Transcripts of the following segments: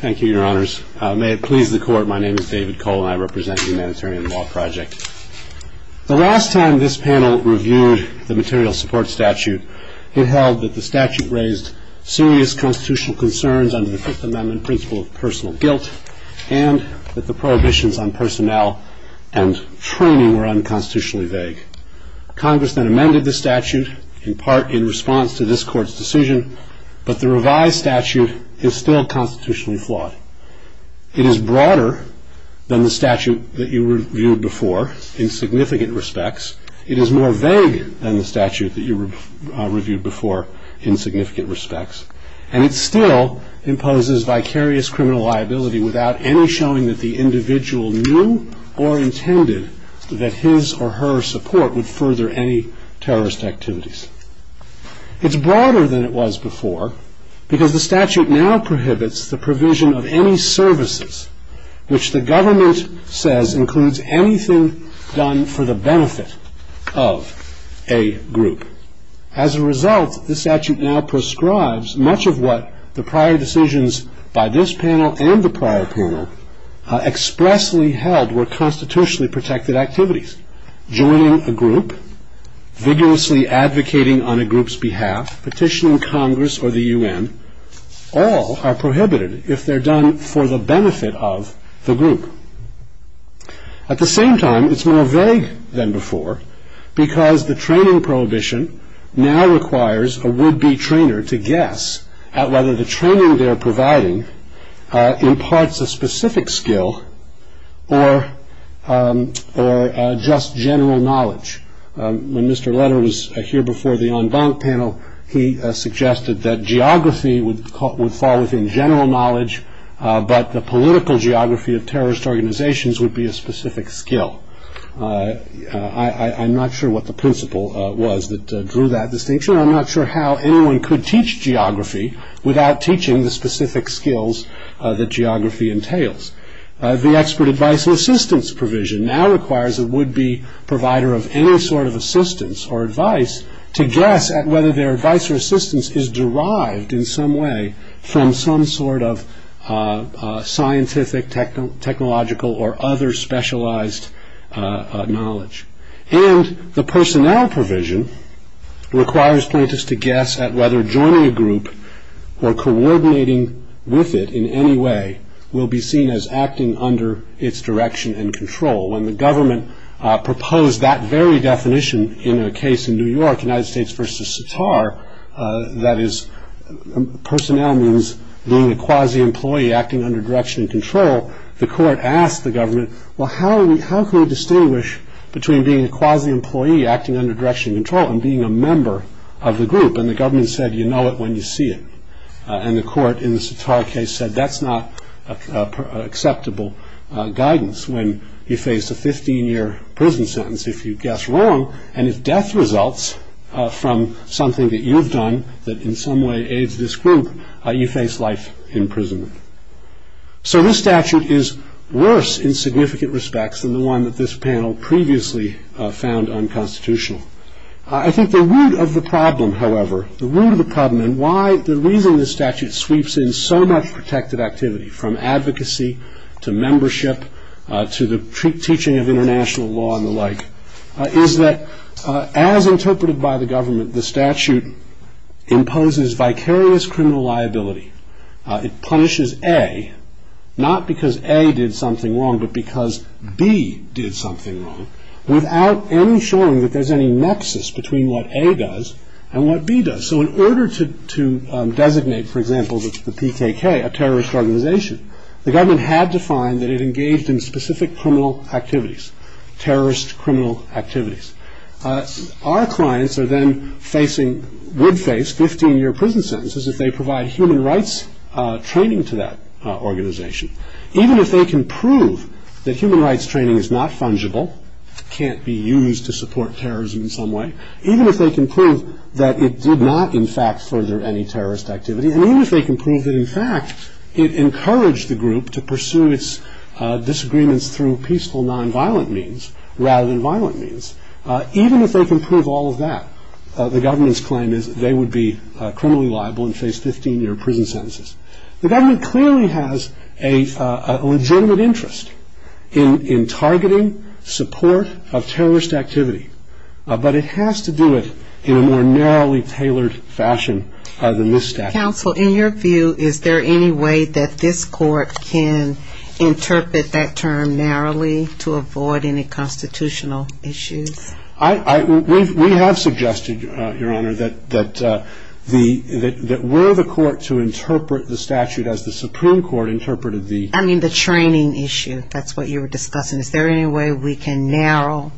Thank you, Your Honors. May it please the Court, my name is David Cole, and I represent the Humanitarian Law Project. The last time this panel reviewed the material support statute, it held that the statute raised serious constitutional concerns under the Fifth Amendment principle of personal guilt, and that the prohibitions on personnel and training were unconstitutionally vague. Congress then amended the statute, in part in response to this Court's decision, but the revised statute is still constitutionally flawed. It is broader than the statute that you reviewed before in significant respects. It is more vague than the statute that you reviewed before in significant respects. And it still imposes vicarious criminal liability without any showing that the individual knew or intended that his or her support would further any terrorist activities. It's broader than it was before, because the statute now prohibits the provision of any services which the government says includes anything done for the benefit of a group. As a result, the statute now prescribes much of what the prior decisions by this panel and the prior panel expressly held were constitutionally protected activities. Joining a group, vigorously advocating on a group's behalf, petitioning Congress or the U.N., all are prohibited if they're done for the benefit of the group. At the same time, it's more vague than before, because the training prohibition now requires a would-be trainer to guess at whether the training they're given is a specific skill or just general knowledge. When Mr. Leonard was here before the en banc panel, he suggested that geography would fall within general knowledge, but the political geography of terrorist organizations would be a specific skill. I'm not sure what the principle was that drew that distinction. I'm not sure how anyone could teach geography without teaching the specific skills that geography entails. The expert advice and assistance provision now requires a would-be provider of any sort of assistance or advice to guess at whether their advice or assistance is derived in some way from some sort of scientific, technological, or other specialized knowledge. And the personnel provision requires plaintiffs to guess at whether joining a group or coordinating with it in any way will be seen as acting under its direction and control. When the government proposed that very definition in their case in New York, United States v. Sitar, that is, personnel means being a quasi-employee acting under direction and control, the court asked the government, well, how can we distinguish between being a quasi-employee acting under direction and control and being a member of the group? And the government said, you know it when you see it. And the court in the Sitar case said, that's not acceptable guidance when you face a 15-year prison sentence if you guess wrong, and if death results from something that you've done that in some way aids this group, you face life in prison. So this statute is worse in significant respects than the one that this panel previously found unconstitutional. I think the root of the problem, however, the root of the problem and why the reason this statute sweeps in so much protected activity, from advocacy to membership to the teaching of international law and the like, is that as interpreted by the government, the statute imposes vicarious criminal liability. It punishes A, not because A did something wrong, but because B did something wrong, without ensuring that there's any nexus between what A does and what B does. So in order to designate, for example, the PKK, a terrorist organization, the government had to find that it engaged in specific criminal activities, terrorist criminal activities. Our clients are then facing, would face 15-year prison sentences if they provide human rights training to that organization. Even if they can prove that human rights training is not fungible, can't be used to support terrorism in some way, even if they can prove that it did not, in fact, further any terrorist activity, even if they can prove that, in fact, it encouraged the group to pursue its disagreements through peaceful, non-violent means, rather than violent means, even if they can prove all of that, the government's claim is they would be criminally liable and face 15-year prison sentences. The government clearly has a legitimate interest in targeting support of terrorist activity, but it has to do it in a more narrowly tailored fashion than this statute. Counsel, in your view, is there any way that this court can interpret that term narrowly to avoid any constitutional issues? We have suggested, Your Honor, that were the court to interpret the statute as the Supreme Court interpreted the- I mean the training issue, that's what you were discussing. Is there any way we can narrow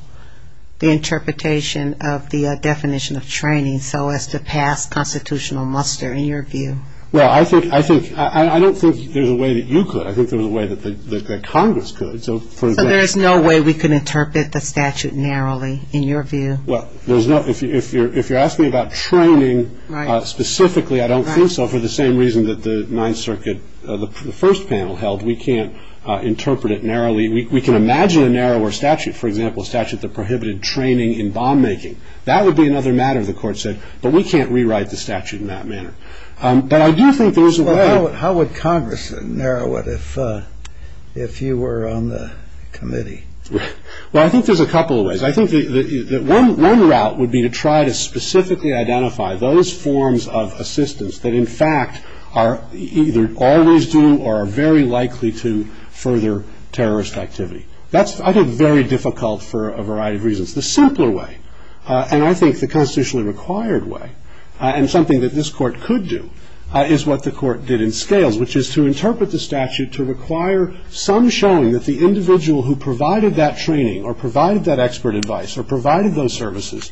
the interpretation of the definition of training so as to pass constitutional muster, in your view? Well, I think, I don't think there's a way that you could. I think there's a way that there's no way we can interpret the statute narrowly, in your view. Well, there's no, if you're asking about training specifically, I don't think so, for the same reason that the Ninth Circuit, the first panel held, we can't interpret it narrowly. We can imagine a narrower statute, for example, a statute that prohibited training in bomb making. That would be another matter, the court said, but we can't rewrite the statute in that manner. But I do think there is a way- How would Congress narrow it if you were on the committee? Well, I think there's a couple of ways. I think that one route would be to try to specifically identify those forms of assistance that, in fact, are either always due or are very likely to further terrorist activity. That's, I think, very difficult for a variety of reasons. The simpler way, and I think the constitutionally required way, and something that this court could do, is what the court did in Scales, which is to interpret the statute to require some showing that the individual who provided that training or provided that expert advice or provided those services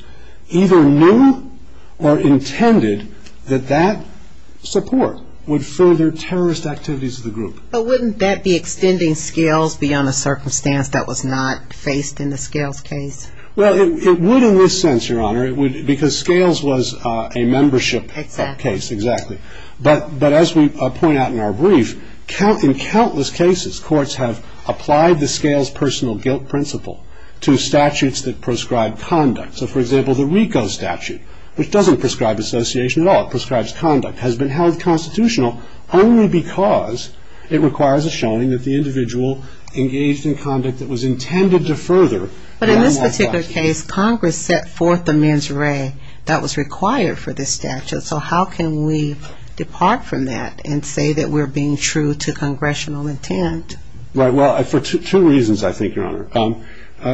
either knew or intended that that support would further terrorist activities of the group. But wouldn't that be extending Scales beyond a circumstance that was not faced in the Scales case? Well, it would in this sense, Your Honor, because Scales was a membership case, exactly. But as we point out in our brief, in countless cases, courts have applied the Scales personal guilt principle to statutes that prescribe conduct. So, for example, the RICO statute, which doesn't prescribe association at all, it prescribes conduct, has been held constitutional only because it requires a showing that the individual engaged in conduct that was intended to further- But in this particular case, Congress set forth a mens re that was required for this statute. So how can we depart from that and say that we're being true to congressional intent? Well, for two reasons, I think, Your Honor.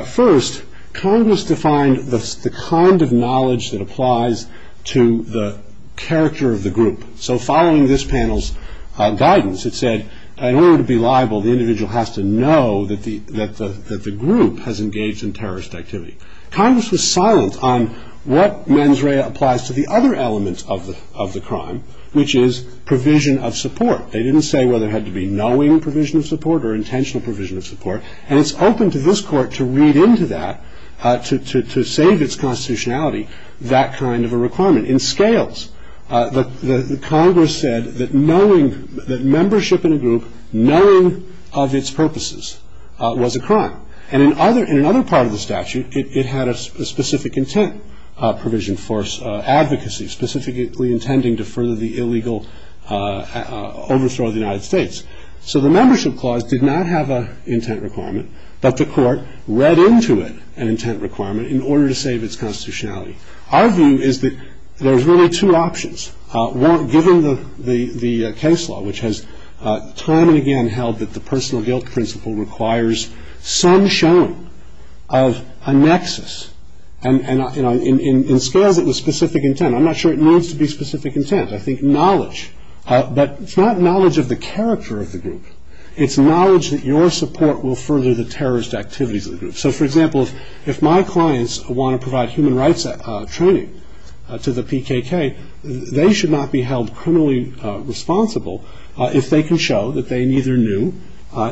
First, Congress defined the kind of knowledge that applies to the character of the group. So following this panel's guidance, it said that in order to be liable, the individual has to know that the group has engaged in terrorist activity. Congress was silent on what mens re applies to the other elements of the crime, which is provision of support. They didn't say whether it had to be knowing provision of support or intentional provision of support. And it's open to this court to read into that, to save its constitutionality, that kind of a requirement. In Scales, Congress said that knowing, that membership in a group, knowing of its purposes was a crime. And in other part of the statute, it had a specific intent provision for advocacy, specifically intending to further the illegal overthrow of the United States. So the membership clause did not have an intent requirement, but the court read into it an intent requirement in order to save its constitutionality. Our view is that there's really two options. One, given the case law, which has time and again held that the personal guilt principle requires some showing of a nexus. And in Scales it was specific intent. I'm not sure it needs to be specific intent. I think knowledge. But it's not knowledge of the character of the group. It's knowledge that your support will further the terrorist activities of the group. So for example, if my clients want to provide human rights training to the PKK, they should not be held criminally responsible if they can show that they neither knew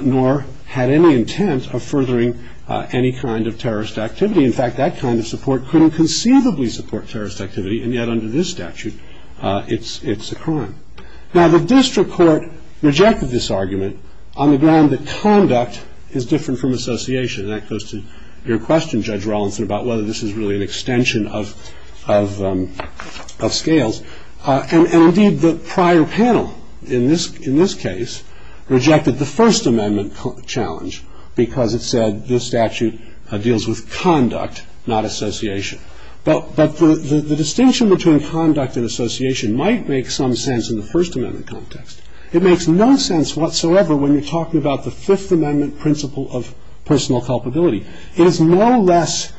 nor had any intent of furthering any kind of terrorist activity. In fact, that kind of support couldn't conceivably support terrorist activity and yet under this statute it's a crime. Now the district court rejected this argument on the ground that conduct is different from guilt, which is really an extension of Scales. And indeed the prior panel in this case rejected the First Amendment challenge because it said this statute deals with conduct, not association. But the distinction between conduct and association might make some sense in the First Amendment context. It makes no sense whatsoever when you're talking about the Fifth Amendment principle of personal culpability. It is no less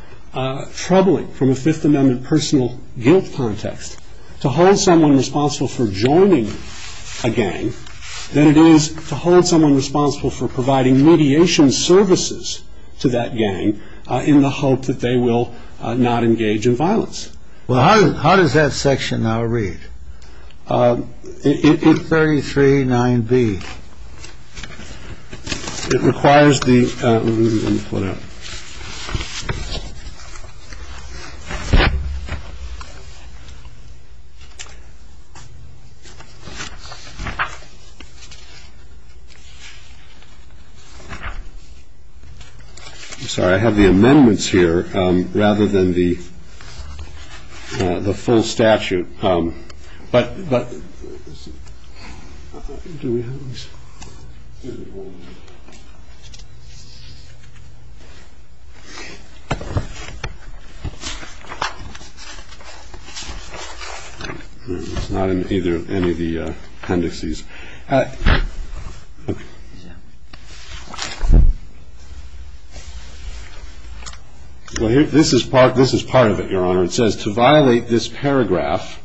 troubling from a Fifth Amendment personal guilt context to hold someone responsible for joining a gang than it is to hold someone responsible for providing mediation services to that gang in the hope that they will not engage in violence. Well how does that section now read? It's 33 9b. It requires the... I'm sorry, I have the amendments here rather than the full statute. But... It's not in either of any of the contexts. This is part of it, Your Honor. It says, to violate this paragraph,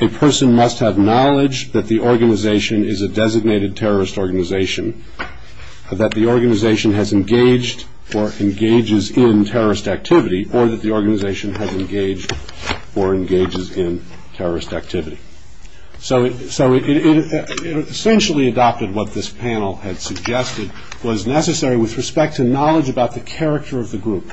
a person must have knowledge that the organization is a designated terrorist organization, that the organization has engaged or engages in terrorist activity, or that the organization has engaged or engages in terrorist activity. So it essentially adopted what this panel had suggested was necessary with respect to knowledge about the character of the group.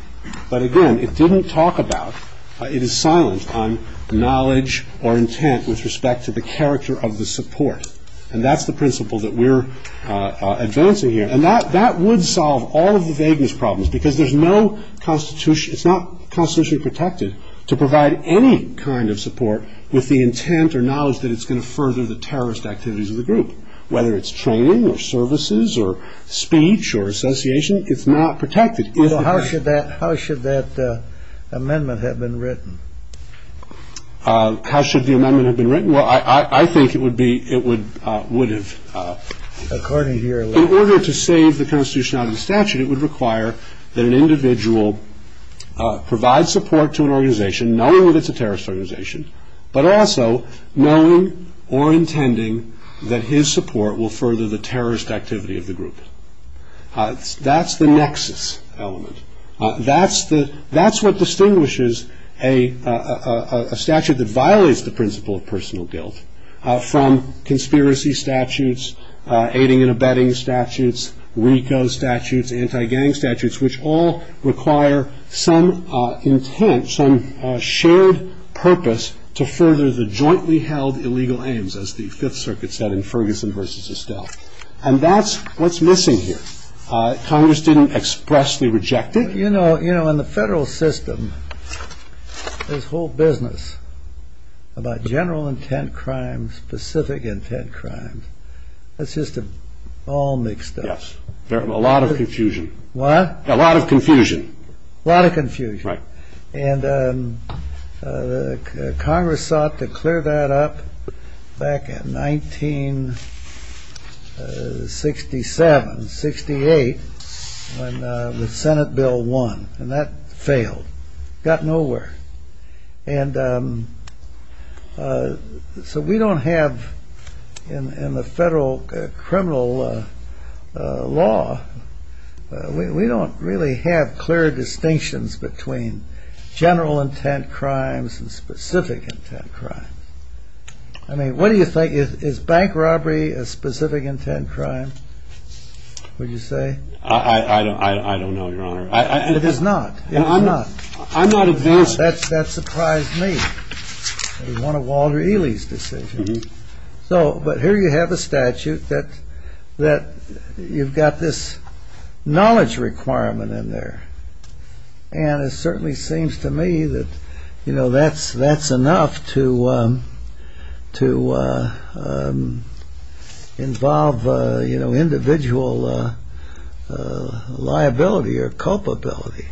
But again, it didn't talk about, it is silent on knowledge or intent with respect to the character of the support. And that's the principle that we're advancing here. And that would solve all of the vagueness problems because there's no constitution, it's not constitutionally protected to provide any kind of support with the intent or knowledge that it's going to further the terrorist activities of the group. Whether it's training or services or speech or association, it's not protected. How should that amendment have been written? Well, I think it would have... In order to save the constitution out of the statute, it would require that an individual provide support to an organization, knowing that it's a terrorist organization, but also knowing or intending that his support will further the terrorist activity of the group. That's the nexus element. That's what distinguishes a statute that violates the principle of personal guilt from conspiracy statutes, aiding and abetting statutes, RICO statutes, anti-gang statutes, which all require some intent, some shared purpose to further the jointly held illegal aims, as the Fifth Circuit said in Ferguson versus Estelle. And that's what's missing here. Congress didn't expressly reject it. You know, in the federal system, there's whole business about general intent crimes, specific intent crimes. It's just all mixed up. There's a lot of confusion. What? A lot of confusion. A lot of confusion. And Congress sought to clear that up back in 1967, 68, when the Senate bill won. And that failed. Got nowhere. And so we don't have, in the federal criminal law, we don't really have clear distinctions between general intent crimes and specific intent crimes. I mean, what do you think? Is bank robbery a specific intent crime, would you say? I don't know, Your Honor. That surprised me. So but here you have a statute that you've got this knowledge requirement in there. And it certainly seems to me that, you know, that's enough to involve, you know, individual liability or culpability.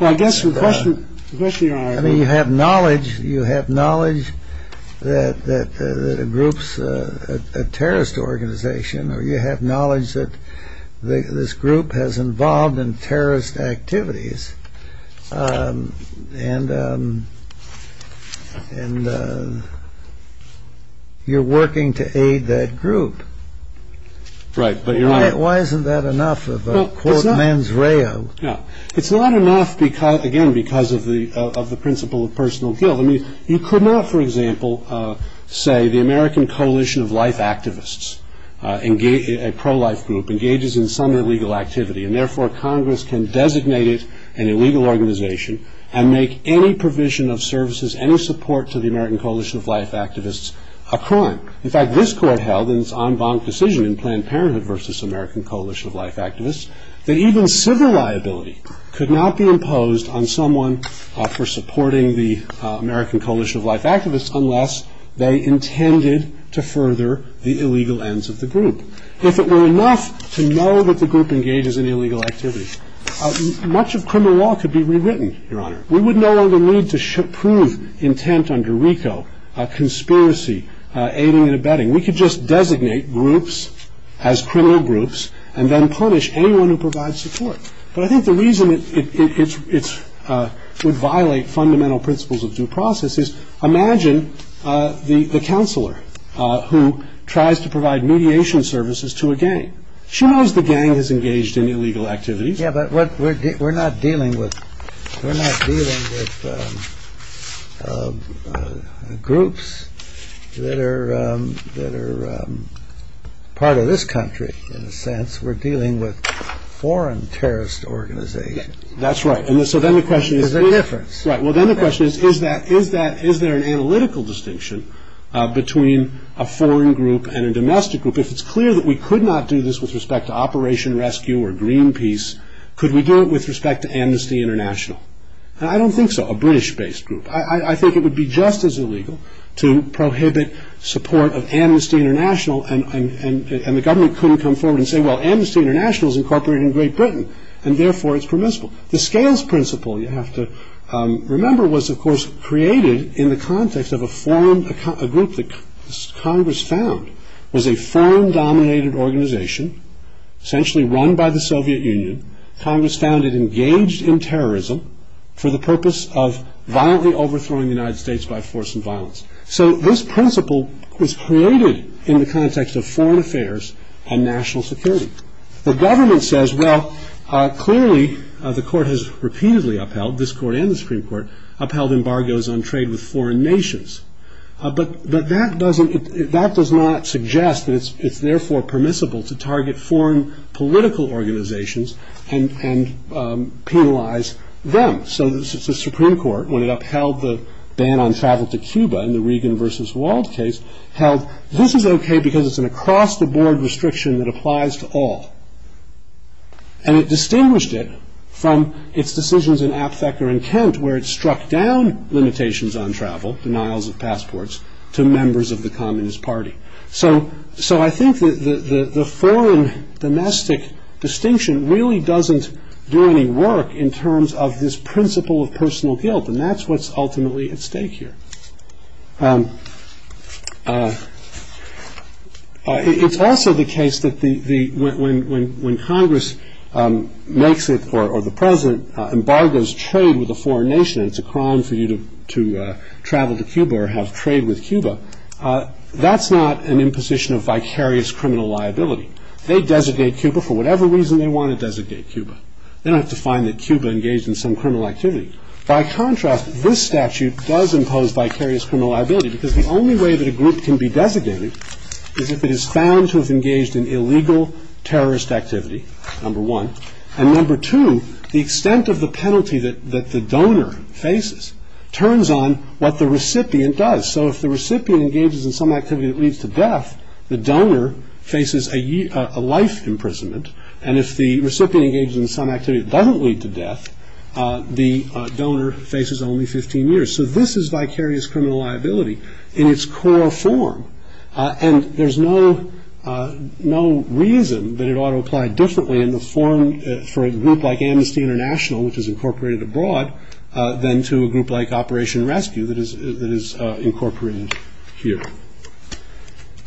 I mean, you have knowledge that a group's a terrorist organization or you have knowledge that this group has involved in terrorist activities. And and you're working to aid that group. Right. But you're right. Why isn't that enough? Again, because of the of the principle of personal guilt. I mean, you could not, for example, say the American Coalition of Life Activists, a pro-life group, engages in some illegal activity, and therefore Congress can designate it an illegal organization and make any provision of services, any support to the American Coalition of Life Activists, a crime. In fact, this court held in its en banc decision in Planned Parenthood versus American Coalition of Life Activists, that even civil liability could not be imposed on someone for supporting the American Coalition of Life Activists unless they intended to further the illegal ends of the group. If it were enough to know that the group engages in illegal activity, much of criminal law could be rewritten, Your Honor. We wouldn't know the need to prove intent under RICO, conspiracy, aiding and abetting. We could just designate groups as criminal groups and then punish anyone who provides support. I think the reason it would violate fundamental principles of due process is, imagine the counselor who tries to provide mediation services to a gang. She knows the gang has engaged in illegal activities. Yeah, but we're not dealing with groups that are part of this country, in a sense. We're dealing with foreign terrorist organizations. That's right. And so then the question is, is there an analytical distinction between a foreign group and a domestic group? If it's clear that we could not do this with respect to Operation Rescue or Greenpeace, could we do it with respect to Amnesty International? I don't think so. A British-based group. I think it would be just as illegal to prohibit support of Amnesty International, and the government couldn't come forward and say, well, Amnesty International is incorporated in Great Britain, and therefore it's permissible. The scales principle, you have to remember, was, of course, created in the context of a group that Congress found was a foreign-dominated organization, essentially run by the Soviet Union. Congress found it engaged in terrorism for the purpose of violently overthrowing the United States by force and violence. So this principle was created in the context of foreign affairs and national security. The government says, well, clearly the court has repeatedly upheld, this court and the Supreme Court, upheld embargoes on trade with foreign nations. But that doesn't, that does not suggest that it's therefore permissible to target foreign political organizations and penalize them. So the Supreme Court, when it upheld the ban on travel to Cuba in the Reagan versus Wald case, held this is okay because it's an across-the-board restriction that applies to all. And it distinguished it from its decisions in Act Vector and Tent, where it struck down limitations on travel, denials of passports, to members of the Communist Party. So I think that the foreign domestic distinction really doesn't do any work in terms of this principle of personal guilt. And that's what's ultimately at stake here. It's also the case that when Congress makes it, or the president, embargoes trade with a foreign nation, it's a crime for you to travel to Cuba or have trade with Cuba. That's not an imposition of vicarious criminal liability. They designate Cuba for whatever reason they want to designate Cuba. They don't have to find that Cuba engaged in some criminal activity. By contrast, this statute does impose vicarious criminal liability because the only way that a group can be designated is if it is found to have engaged in illegal terrorist activity, number one. And number two, the extent of the penalty that the donor faces turns on what the recipient does. So if the recipient engages in some activity that leads to death, the donor faces a life imprisonment. And if the recipient engages in some activity that doesn't lead to death, the donor faces only 15 years. So this is vicarious criminal liability in its core form. And there's no reason that it ought to apply differently in the form for a group like Amnesty International, which is incorporated abroad, than to a group like Operation Rescue that is incorporated here.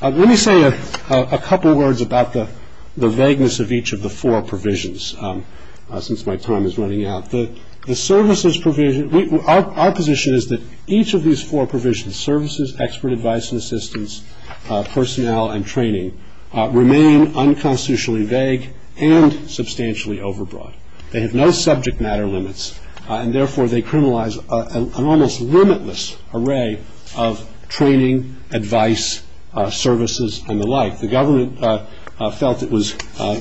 Let me say a couple of words about the vagueness of each of the four provisions, since my time is running out. The services provision, our position is that each of these four provisions, services, expert advice and assistance, personnel and training, remain unconstitutionally vague and substantially overbroad. They have no subject matter limits, and therefore they criminalize an almost limitless array of training, advice, services and the like. The government felt it was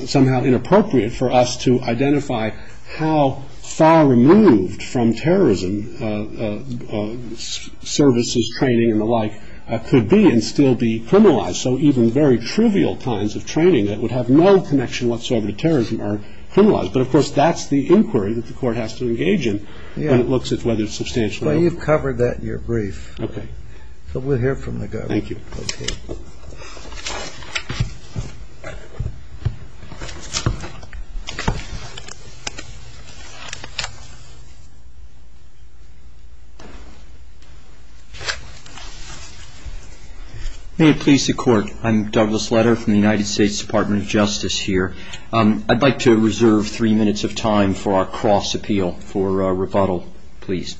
somehow inappropriate for us to identify how far removed from terrorism services, training and the like could be and still be criminalized. So even very trivial kinds of training that would have no connection whatsoever to terrorism are criminalized. But of course, that's the inquiry that the court has to engage in when it looks at whether it's substantial. Well, you've covered that in your brief. So we'll hear from the government. Thank you. May it please the court. I'm Douglas Letter from the United States Department of Justice here. I'd like to reserve three minutes of time for our cross-appeal for rebuttal, please.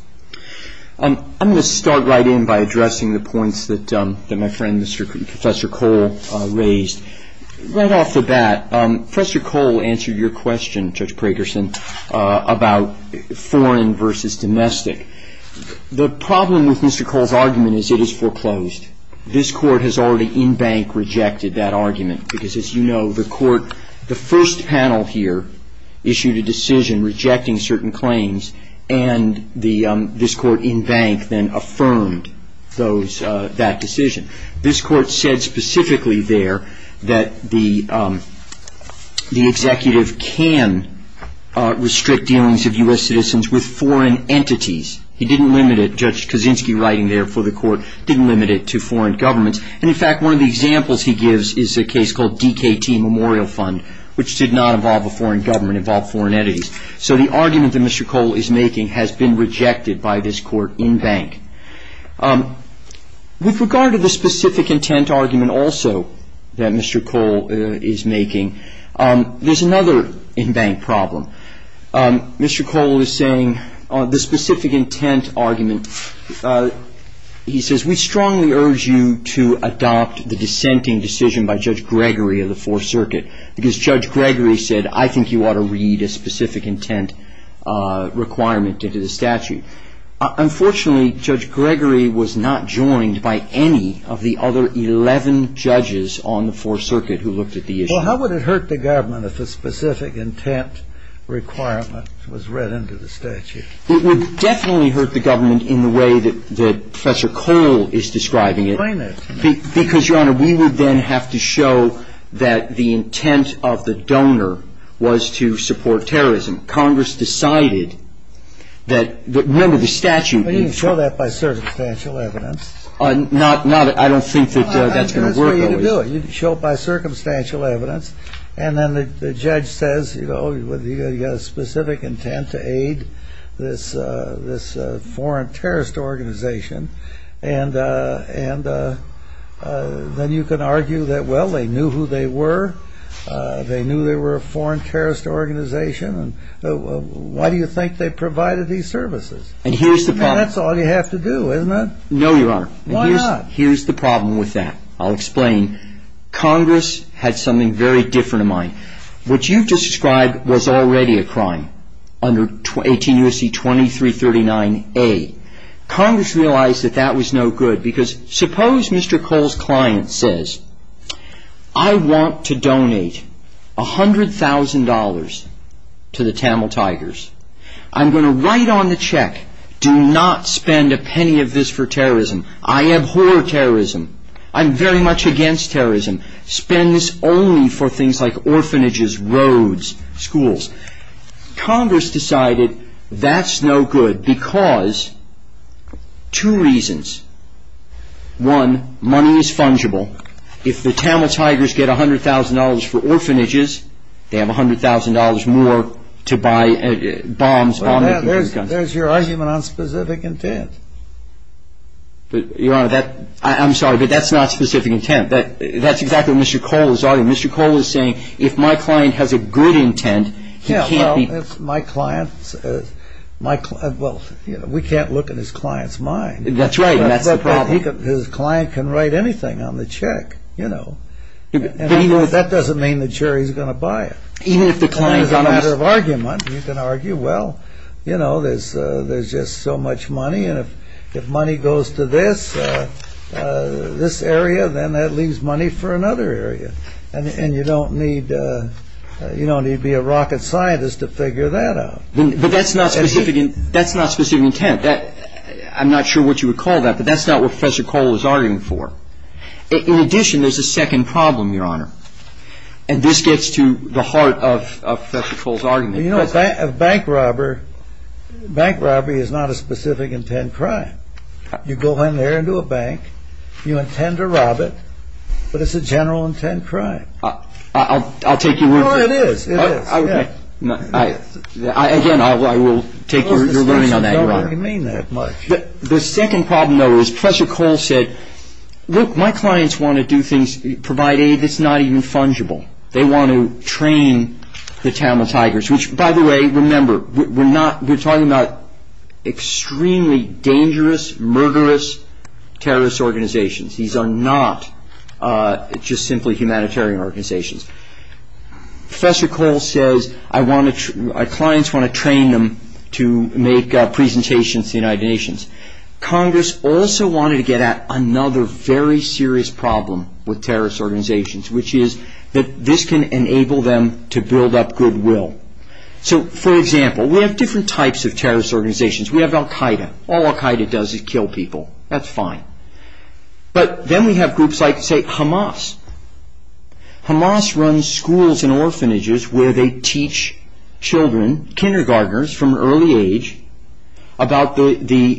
I'm going to start right in by addressing the points that my friend Professor Cole raised. Right off the bat, Professor Cole answered your question, Judge Pragerson, about foreign versus domestic. The problem with Mr. Cole's argument is it is foreclosed. This court has already in bank rejected that argument because, as you know, the first panel here issued a decision rejecting certain claims and this court in bank then affirmed that decision. This court said specifically there that the executive can restrict dealings of U.S. citizens with foreign entities. He didn't limit it, Judge Kaczynski writing there for the court, didn't limit it to foreign governments. And in fact, one of the examples he gives is a case called DKT Memorial Fund, which did not involve a foreign government, involved foreign entities. So the argument that Mr. Cole is making has been rejected by this court in bank. With regard to the specific intent argument also that Mr. Cole is making, there's another in bank problem. Mr. Cole is saying the specific intent argument, he says, we strongly urge you to adopt the dissenting decision by Judge Gregory of the Fourth Circuit because Judge Gregory said, I think you ought to read a specific intent requirement into the statute. Unfortunately, Judge Gregory was not joined by any of the other 11 judges on the Fourth Circuit who looked at the issue. Well, how would it hurt the government if a specific intent requirement was read into the statute? It would definitely hurt the government in the way that Professor Cole is describing it. Explain this. Because, Your Honor, we would then have to show that the intent of the donor was to support terrorism. Congress decided that, remember, the statute... You can show that by circumstantial evidence. I don't think that that's going to work. You can show it by circumstantial evidence. And then the judge says, you know, you've got a specific intent to aid this foreign terrorist organization. And then you can argue that, well, they knew who they were. They knew they were a foreign terrorist organization. Why do you think they provided these services? And that's all you have to do, isn't it? No, Your Honor. Why not? Here's the problem with that. I'll explain. Congress had something very different in mind. What you've described was already a crime under 18 U.S.C. 2339A. Congress realized that that was no good. Because suppose Mr. Cole's client says, I want to donate $100,000 to the Tamil Tigers. I'm going to write on the check, do not spend a penny of this for terrorism. I abhor terrorism. I'm very much against terrorism. Spend this only for things like orphanages, roads, schools. Congress decided that's no good because two reasons. One, money is fungible. If the Tamil Tigers get $100,000 for orphanages, they have $100,000 more to buy bombs. There's your argument on specific intent. Your Honor, I'm sorry, but that's not specific intent. That's exactly what Mr. Cole is arguing. Mr. Cole is saying if my client has a good intent, he can't be... Well, we can't look at his client's mind. That's right. His client can write anything on the check, you know. That doesn't mean the jury is going to buy it. It's a matter of argument. You can argue, well, you know, there's just so much money. And if money goes to this area, then that leaves money for another area. And you don't need to be a rocket scientist to figure that out. But that's not specific intent. I'm not sure what you would call that, but that's not what Professor Cole is arguing for. In addition, there's a second problem, Your Honor. And this gets to the heart of Professor Cole's argument. You know, a bank robbery is not a specific intent crime. You go in there into a bank, you intend to rob it, but it's a general intent crime. I'll take your word for it. No, it is. Again, I will take your word on that, Your Honor. I don't really mean that much. The second problem, though, is Professor Cole said, Look, my clients want to do things, provide aid that's not even fungible. They want to train the Tamil Tigers. Which, by the way, remember, we're talking about extremely dangerous, murderous terrorist organizations. These are not just simply humanitarian organizations. Professor Cole says, my clients want to train them to make presentations to the United Nations. Congress also wanted to get at another very serious problem with terrorist organizations, which is that this can enable them to build up goodwill. So, for example, we have different types of terrorist organizations. We have Al Qaeda. All Al Qaeda does is kill people. But then we have groups like, say, Hamas. Hamas runs schools and orphanages where they teach children, kindergarteners from an early age, about the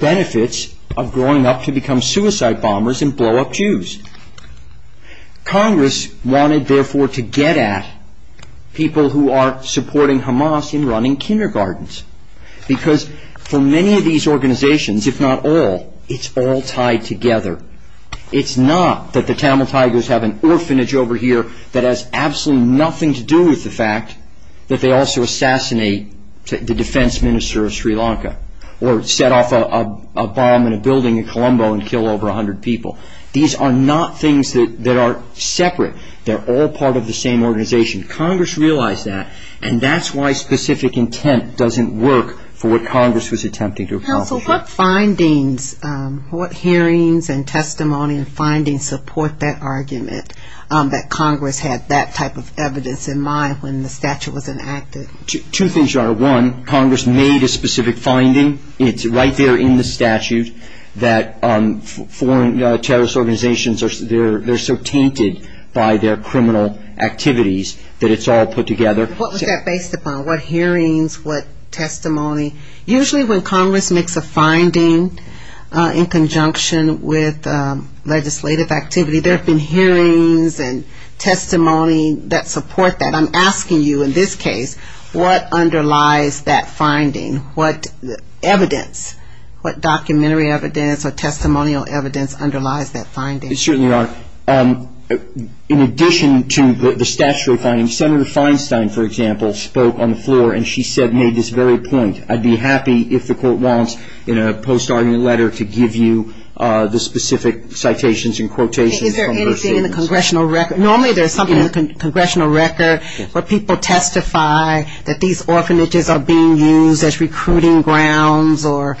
benefits of growing up to become suicide bombers and blow up Jews. Congress wanted, therefore, to get at people who are supporting Hamas in running kindergartens. Because for many of these organizations, if not all, it's all tied together. It's not that the Tamil Tigers have an orphanage over here that has absolutely nothing to do with the fact that they also assassinate the defense minister of Sri Lanka or set off a bomb in a building in Colombo and kill over 100 people. These are not things that are separate. They're all part of the same organization. Congress realized that, and that's why specific intent doesn't work for what Congress was attempting to accomplish. Counsel, what findings, what hearings and testimony and findings support that argument that Congress had that type of evidence in mind when the statute was enacted? Two things are. One, Congress made a specific finding. It's right there in the statute that foreign terrorist organizations, they're so tainted by their criminal activities that it's all put together. What was that based upon? What hearings, what testimony? Usually when Congress makes a finding in conjunction with legislative activity, there's been hearings and testimony that support that. I'm asking you in this case, what underlies that finding? What evidence, what documentary evidence or testimonial evidence underlies that finding? It certainly does. In addition to the statutory findings, Senator Feinstein, for example, spoke on the floor, and she said, made this very point, I'd be happy if the court wants in a post-argument letter to give you the specific citations and quotations from those hearings. Is there anything in the congressional record? Normally there's something in the congressional record where people testify that these orphanages are being used as recruiting grounds or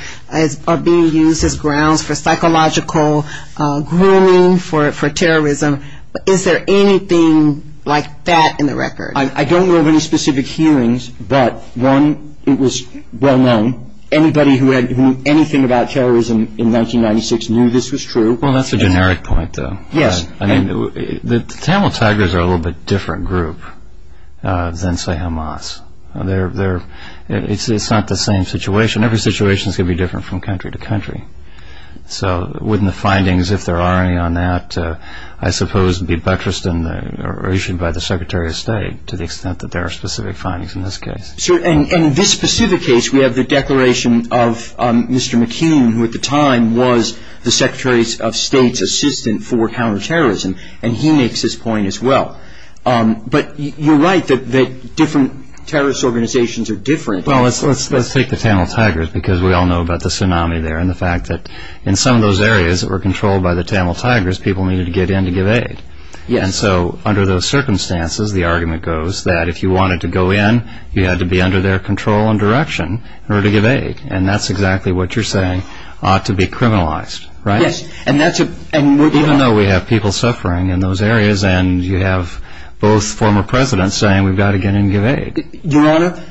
are being used as grounds for psychological grooming for terrorism. Is there anything like that in the record? I don't know of any specific hearings, but one, it was well-known. Anybody who knew anything about terrorism in 1996 knew this was true. Well, that's a generic point, though. Yes. The Camel Tigers are a little bit different group than, say, Hamas. It's not the same situation. Every situation is going to be different from country to country. So wouldn't the findings, if there are any on that, I suppose, be buttressed or issued by the Secretary of State to the extent that there are specific findings in this case? Sure. And in this specific case, we have the declaration of Mr. McKean, who at the time was the Secretary of State's assistant for counterterrorism, and he makes this point as well. But you're right that different terrorist organizations are different. Well, let's take the Camel Tigers because we all know about the tsunami there and the fact that in some of those areas that were controlled by the Camel Tigers, people needed to get in to give aid. And so under those circumstances, the argument goes that if you wanted to go in, you had to be under their control and direction in order to give aid. And that's exactly what you're saying ought to be criminalized, right? Yes. Even though we have people suffering in those areas, and you have both former presidents saying we've got to get in and give aid. Your Honor,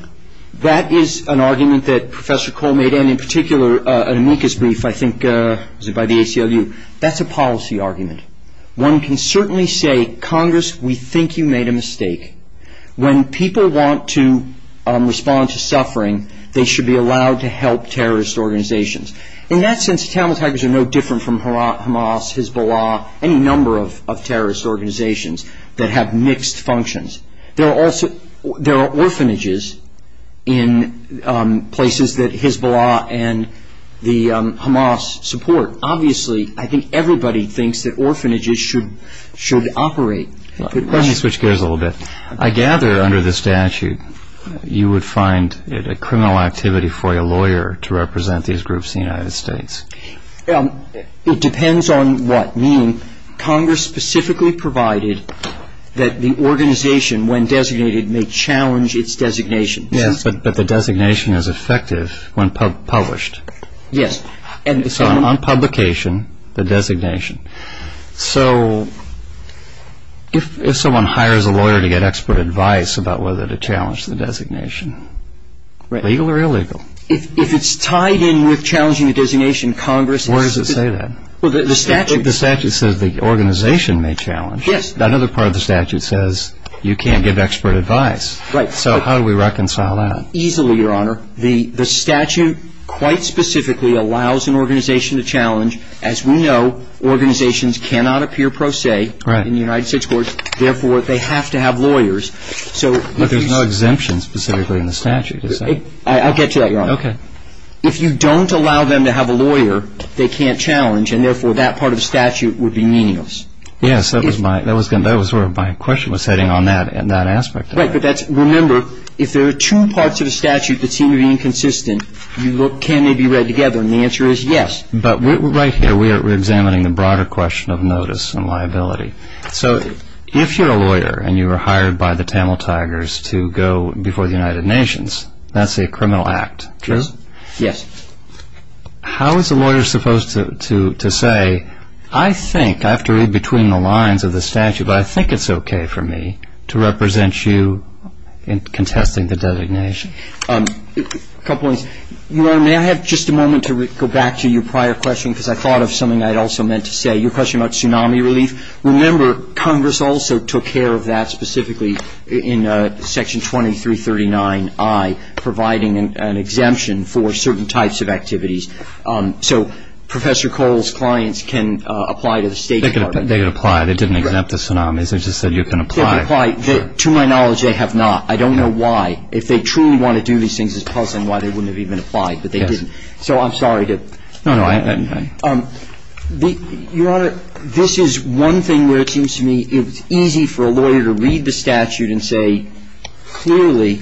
that is an argument that Professor Cole made, and in particular, an amicus brief, I think, by the ACLU. That's a policy argument. One can certainly say, Congress, we think you made a mistake. When people want to respond to suffering, they should be allowed to help terrorist organizations. In that sense, Camel Tigers are no different from Hamas, Hezbollah, any number of terrorist organizations that have mixed functions. There are orphanages in places that Hezbollah and the Hamas support. Obviously, I think everybody thinks that orphanages should operate. Let me switch gears a little bit. I gather under the statute, you would find it a criminal activity for a lawyer to represent these groups in the United States. It depends on what. Congress specifically provided that the organization, when designated, may challenge its designation. Yes, but the designation is effective when published. Yes. So, on publication, the designation. So, if someone hires a lawyer to get expert advice about whether to challenge the designation, legal or illegal? If it's tied in with challenging the designation, Congress... Where does it say that? The statute says the organization may challenge. Yes. That other part of the statute says you can't give expert advice. Right. So, how do we reconcile that? Easily, Your Honor. The statute quite specifically allows an organization to challenge. As we know, organizations cannot appear pro se in the United States courts. Therefore, they have to have lawyers. But there's no exemption specifically in the statute, is there? I'll get to that, Your Honor. Okay. If you don't allow them to have a lawyer, they can't challenge, and therefore, that part of the statute would be meaningless. Yes. That was where my question was heading on that aspect. Right. But remember, if there are two parts of the statute that seem to be inconsistent, can they be read together? And the answer is yes. But right here, we're examining the broader question of notice and liability. So, if you're a lawyer and you were hired by the panel tigers to go before the United Nations, that's a criminal act. Jim? Yes. How is a lawyer supposed to say, I think, I have to read between the lines of the statute, but I think it's okay for me to represent you in contesting the designation? A couple of things. Your Honor, may I have just a moment to go back to your prior question because I thought of something I also meant to say, your question about tsunami relief. Remember, Congress also took care of that specifically in Section 2339I, providing an exemption for certain types of activities. So, Professor Cole's clients can apply to the State Department. They can apply. They didn't exempt the tsunamis. They just said you can apply. They can apply. To my knowledge, they have not. I don't know why. If they truly want to do these things as part of something, why they wouldn't have even applied, but they didn't. So, I'm sorry to – No, no. Go ahead. Your Honor, this is one thing where it seems to me it's easy for a lawyer to read the statute and say, clearly,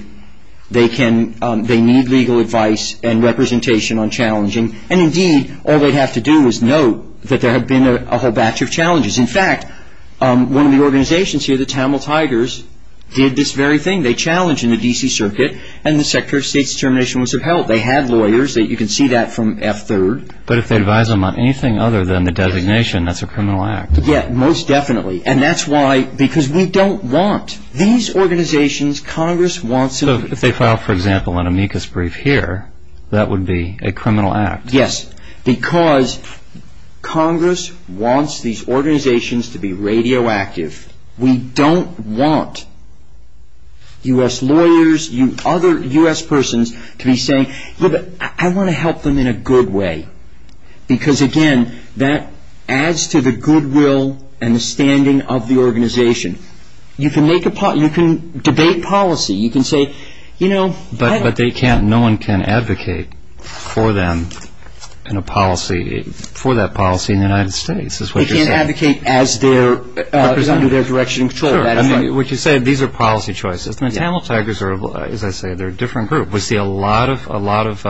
they need legal advice and representation on challenging. And, indeed, all they have to do is note that there have been a batch of challenges. In fact, one of the organizations here, the Tamil Tigers, did this very thing. They challenged in the D.C. Circuit, and the Secretary of State's determination was of help. They had lawyers. You can see that from F3. But if they advise them on anything other than the designation, that's a criminal act. Yes, most definitely. And that's why – because we don't want these organizations. Congress wants to – So, if they file, for example, an amicus brief here, that would be a criminal act. Yes, because Congress wants these organizations to be radioactive. We don't want U.S. lawyers, other U.S. persons to be saying, look, I want to help them in a good way. Because, again, that adds to the goodwill and the standing of the organization. You can make a – you can debate policy. You can say, you know – But they can't – no one can advocate for them in a policy – for that policy in the United States. They can't advocate as they're presenting their direction for that. What you said, these are policy choices. The Tamil Tigers are, as I say, they're a different group. We see a lot of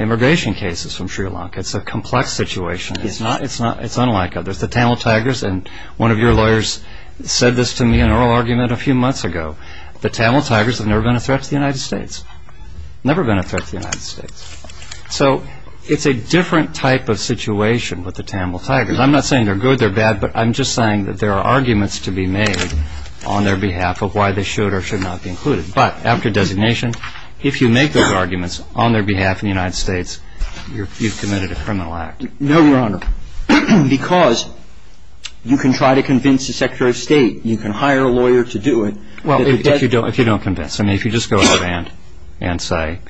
immigration cases from Sri Lanka. It's a complex situation. It's not – it's unlike others. The Tamil Tigers – and one of your lawyers said this to me in oral argument a few months ago. The Tamil Tigers have never been a threat to the United States. Never been a threat to the United States. So it's a different type of situation with the Tamil Tigers. I'm not saying they're good, they're bad. But I'm just saying that there are arguments to be made on their behalf of why they should or should not be included. But after designation, if you make those arguments on their behalf in the United States, you've committed a criminal act. No, Your Honor, because you can try to convince the Secretary of State. You can hire a lawyer to do it. Well, if you don't convince. I mean, if you just go out and say,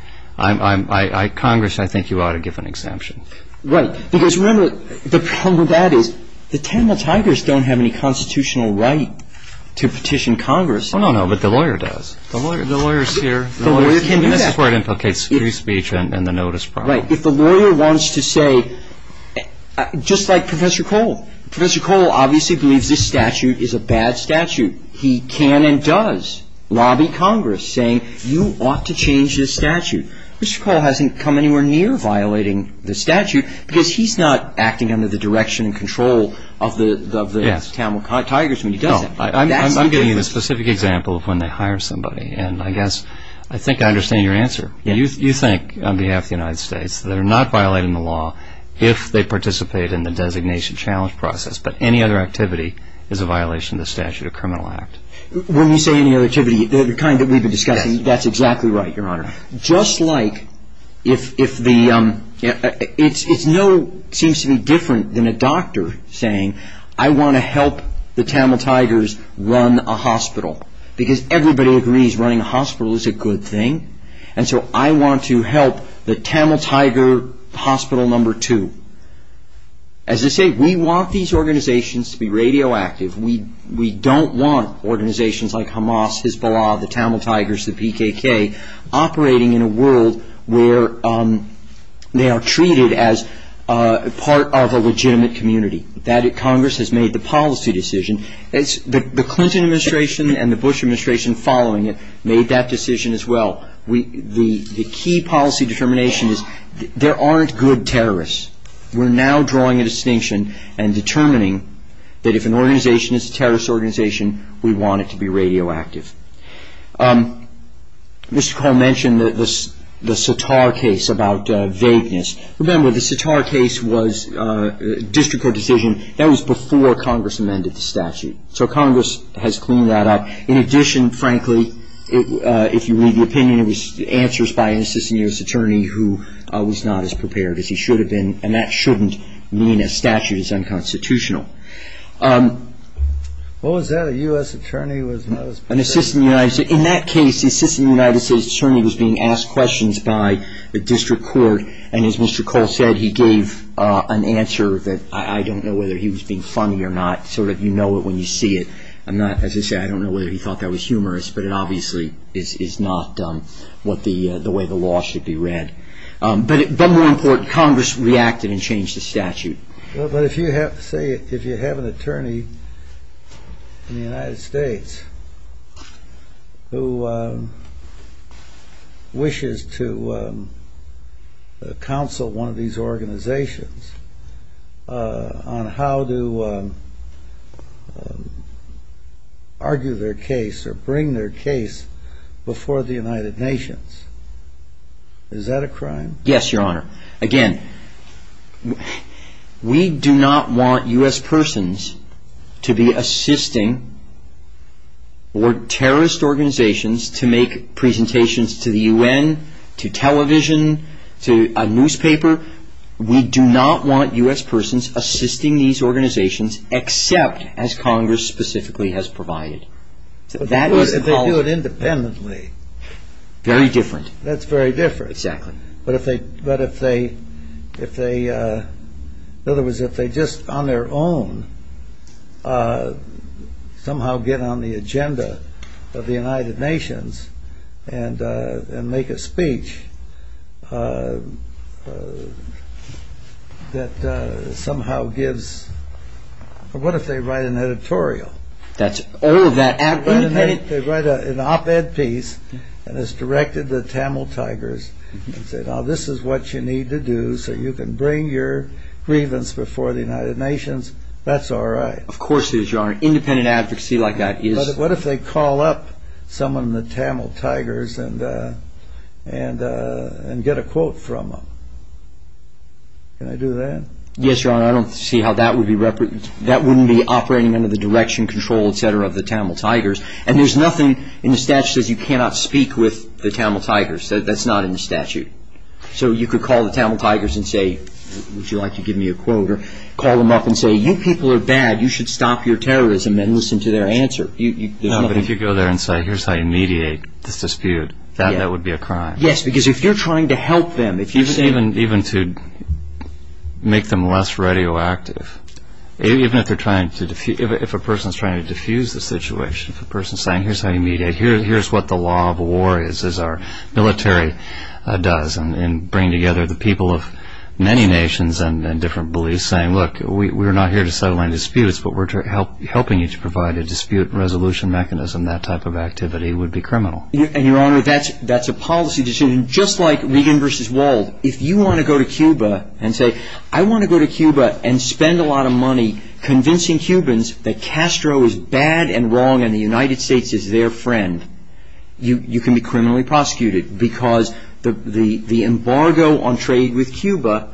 Congress, I think you ought to give an exemption. Right. Because remember, the problem with that is the Tamil Tigers don't have any constitutional right to petition Congress. Well, no, no. But the lawyer does. The lawyer is here. The lawyer can do that. That's where it implicates free speech and the notice process. Right. If the lawyer wants to say – just like Professor Cole. Professor Cole obviously believes this statute is a bad statute. He can and does lobby Congress saying you ought to change this statute. Mr. Cole hasn't come anywhere near violating the statute because he's not acting under the direction and control of the Tamil Tigers when he does it. No, I'm giving you the specific example of when they hire somebody. And I guess I think I understand your answer. You think, on behalf of the United States, they're not violating the law if they participate in the designation challenge process. But any other activity is a violation of the Statute of Criminal Act. When you say any other activity, the kind that we've been discussing, that's exactly right, Your Honor. Just like if the – it's no – seems to be different than a doctor saying I want to help the Tamil Tigers run a hospital. Because everybody agrees running a hospital is a good thing. And so I want to help the Tamil Tiger hospital number two. As I say, we want these organizations to be radioactive. We don't want organizations like Hamas, Hezbollah, the Tamil Tigers, the PKK operating in a world where they are treated as part of a legitimate community. That – Congress has made the policy decision. The Clinton administration and the Bush administration following it made that decision as well. The key policy determination is there aren't good terrorists. We're now drawing a distinction and determining that if an organization is a terrorist organization, we want it to be radioactive. Mr. Cole mentioned the Satar case about vagueness. Remember, the Satar case was a district court decision. That was before Congress amended the statute. So Congress has cleaned that up. In addition, frankly, if you read the opinion, it was answers by an assistant U.S. attorney who was not as prepared as he should have been. And that shouldn't mean a statute is unconstitutional. In that case, the assistant United States attorney was being asked questions by the district court. And as Mr. Cole said, he gave an answer that I don't know whether he was being funny or not. Sort of you know it when you see it. As he said, I don't know whether he thought that was humorous, but it obviously is not the way the law should be read. But more important, Congress reacted and changed the statute. But if you have an attorney in the United States who wishes to counsel one of these organizations on how to argue their case or bring their case before the United Nations, is that a crime? Yes, Your Honor. Again, we do not want U.S. persons to be assisting or terrorist organizations to make presentations to the U.N., to television, to a newspaper. We do not want U.S. persons assisting these organizations except as Congress specifically has provided. They do it independently. Very different. That's very different. Exactly. But if they, in other words, if they just on their own somehow get on the agenda of the United Nations and make a speech that somehow gives, what if they write an editorial? They write an op-ed piece and it's directed to the Tamil Tigers. Now this is what you need to do so you can bring your grievance before the United Nations. That's all right. Of course it is, Your Honor. Independent advocacy like that is. What if they call up someone in the Tamil Tigers and get a quote from them? Can I do that? Yes, Your Honor. I don't see how that would be, that wouldn't be operating under the direction, control, et cetera, of the Tamil Tigers. And there's nothing in the statute that says you cannot speak with the Tamil Tigers. That's not in the statute. So you could call the Tamil Tigers and say, would you like to give me a quote? Or call them up and say, you people are bad. You should stop your terrorism and listen to their answer. No, but if you go there and say, here's how you mediate this dispute, that would be a crime. Yes, because if you're trying to help them. Even to make them less radioactive. Even if a person is trying to diffuse the situation. If a person is saying, here's how you mediate, here's what the law of war is, is our military does, and bring together the people of many nations and different beliefs, saying, look, we're not here to settle any disputes, but we're helping you to provide a dispute resolution mechanism, that type of activity would be criminal. And Your Honor, that's a policy decision, just like Regan versus Wald. If you want to go to Cuba and say, I want to go to Cuba and spend a lot of money convincing Cubans that Castro is bad and wrong, and the United States is their friend, you can be criminally prosecuted. Because the embargo on trade with Cuba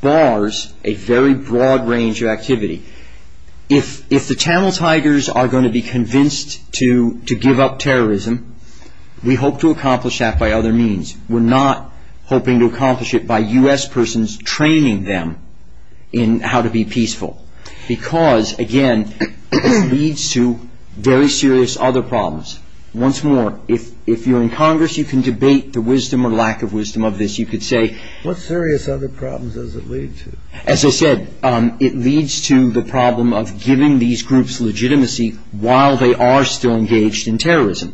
bars a very broad range of activity. If the Channel Tigers are going to be convinced to give up terrorism, we hope to accomplish that by other means. We're not hoping to accomplish it by U.S. persons training them in how to be peaceful. Because, again, it leads to very serious other problems. Once more, if you're in Congress, you can debate the wisdom or lack of wisdom of this. What serious other problems does it lead to? As I said, it leads to the problem of giving these groups legitimacy while they are still engaged in terrorism.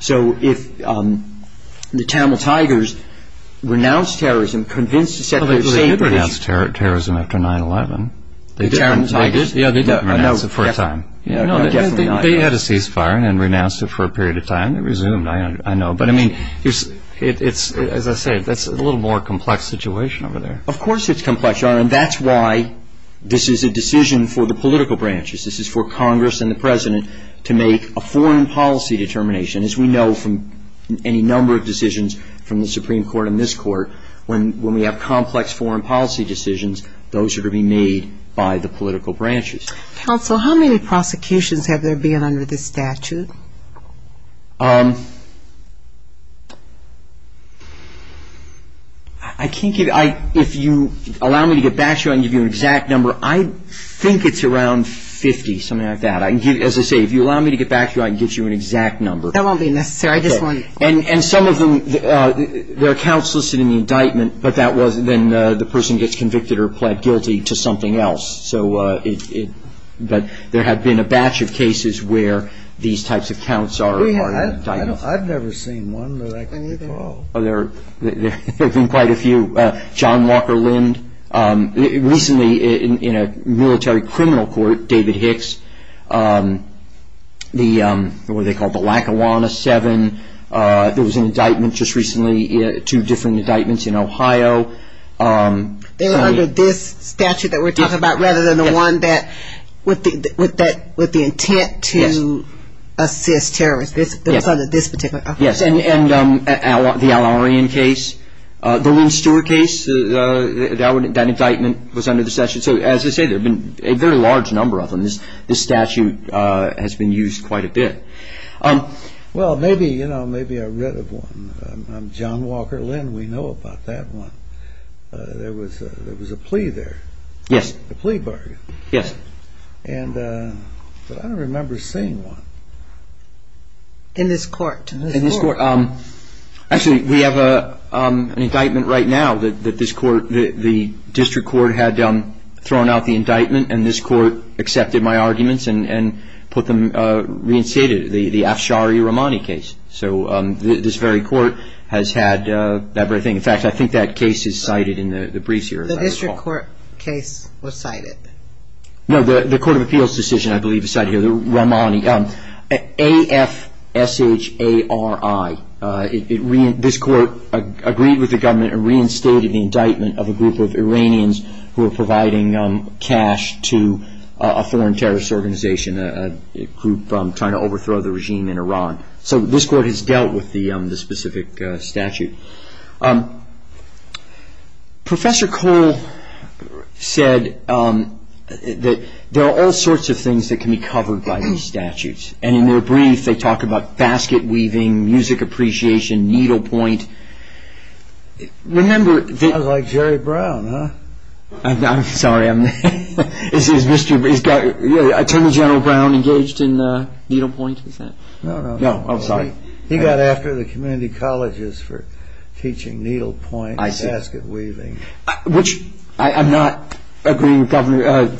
So if the Channel Tigers renounce terrorism, convince the Secretary of State... Well, they did renounce terrorism after 9-11. The Channel Tigers? Yeah, they did renounce it for a time. They had a ceasefire and renounced it for a period of time. It resumed, I know. But, I mean, as I say, that's a little more complex situation over there. Of course it's complex, Your Honor, and that's why this is a decision for the political branches. This is for Congress and the President to make a foreign policy determination. As we know from any number of decisions from the Supreme Court and this Court, when we have complex foreign policy decisions, those are to be made by the political branches. Counsel, how many prosecutions have there been under this statute? I can't give you... If you allow me to get back to you, I can give you an exact number. I think it's around 50, something like that. As I say, if you allow me to get back to you, I can give you an exact number. That won't be necessary. I just want to... And some of them, there are counts listed in the indictment, but that was when the person gets convicted or pled guilty to something else. But there have been a batch of cases where these types of counts are a part of the statute. I've never seen one, but I can recall. There have been quite a few. John Walker Lind, recently in a military criminal court, David Hicks, the, what do they call it, the Lackawanna Seven. There was an indictment just recently, two different indictments in Ohio. They were under this statute that we're talking about, rather than the one with the intent to assist terrorists. It's under this particular statute. Yes, and the Al-Arian case. The Lou Stewart case, that indictment was under the statute. So, as I said, there have been a very large number of them. This statute has been used quite a bit. Well, maybe, you know, maybe I read of one. John Walker Lind, we know about that one. There was a plea there. Yes. A plea bargain. Yes. And I don't remember seeing one. In this court. In this court. Actually, we have an indictment right now that this court, the district court, had thrown out the indictment and this court accepted my arguments and put them reinstated, the Afshari-Romani case. So, this very court has had that very thing. In fact, I think that case is cited in the briefs here. The district court case was cited. No, the court of appeals decision, I believe, is cited here. The Romani. A-F-S-H-A-R-I. This court agreed with the government and reinstated the indictment of a group of Iranians who were providing cash to a foreign terrorist organization, a group trying to overthrow the regime in Iran. So, this court has dealt with the specific statute. Professor Cole said that there are all sorts of things that can be covered by these statutes. And in their brief, they talk about basket weaving, music appreciation, needlepoint. Remember... Sounds like Jerry Brown, huh? I'm sorry. Is Attorney General Brown engaged in needlepoint? No, I'm sorry. He got after the community colleges for teaching needlepoint and basket weaving. Which I'm not agreeing with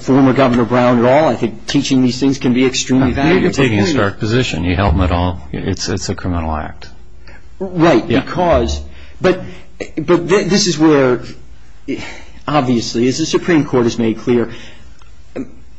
former Governor Brown at all. I think teaching these things can be extremely valuable. You're taking a stark position. You held them at all. It's a criminal act. Right, because... But this is where, obviously, as the Supreme Court has made clear,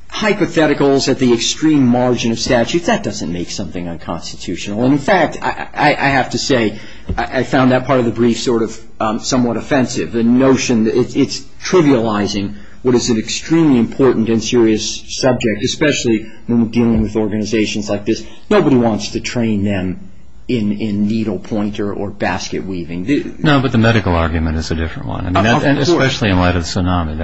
hypotheticals at the extreme margin of statute, that doesn't make something unconstitutional. In fact, I have to say, I found that part of the brief sort of somewhat offensive. The notion that it's trivializing what is an extremely important and serious subject, especially when we're dealing with organizations like this. Nobody wants to train them in needlepoint or basket weaving. No, but the medical argument is a different one. Especially in light of tsunami.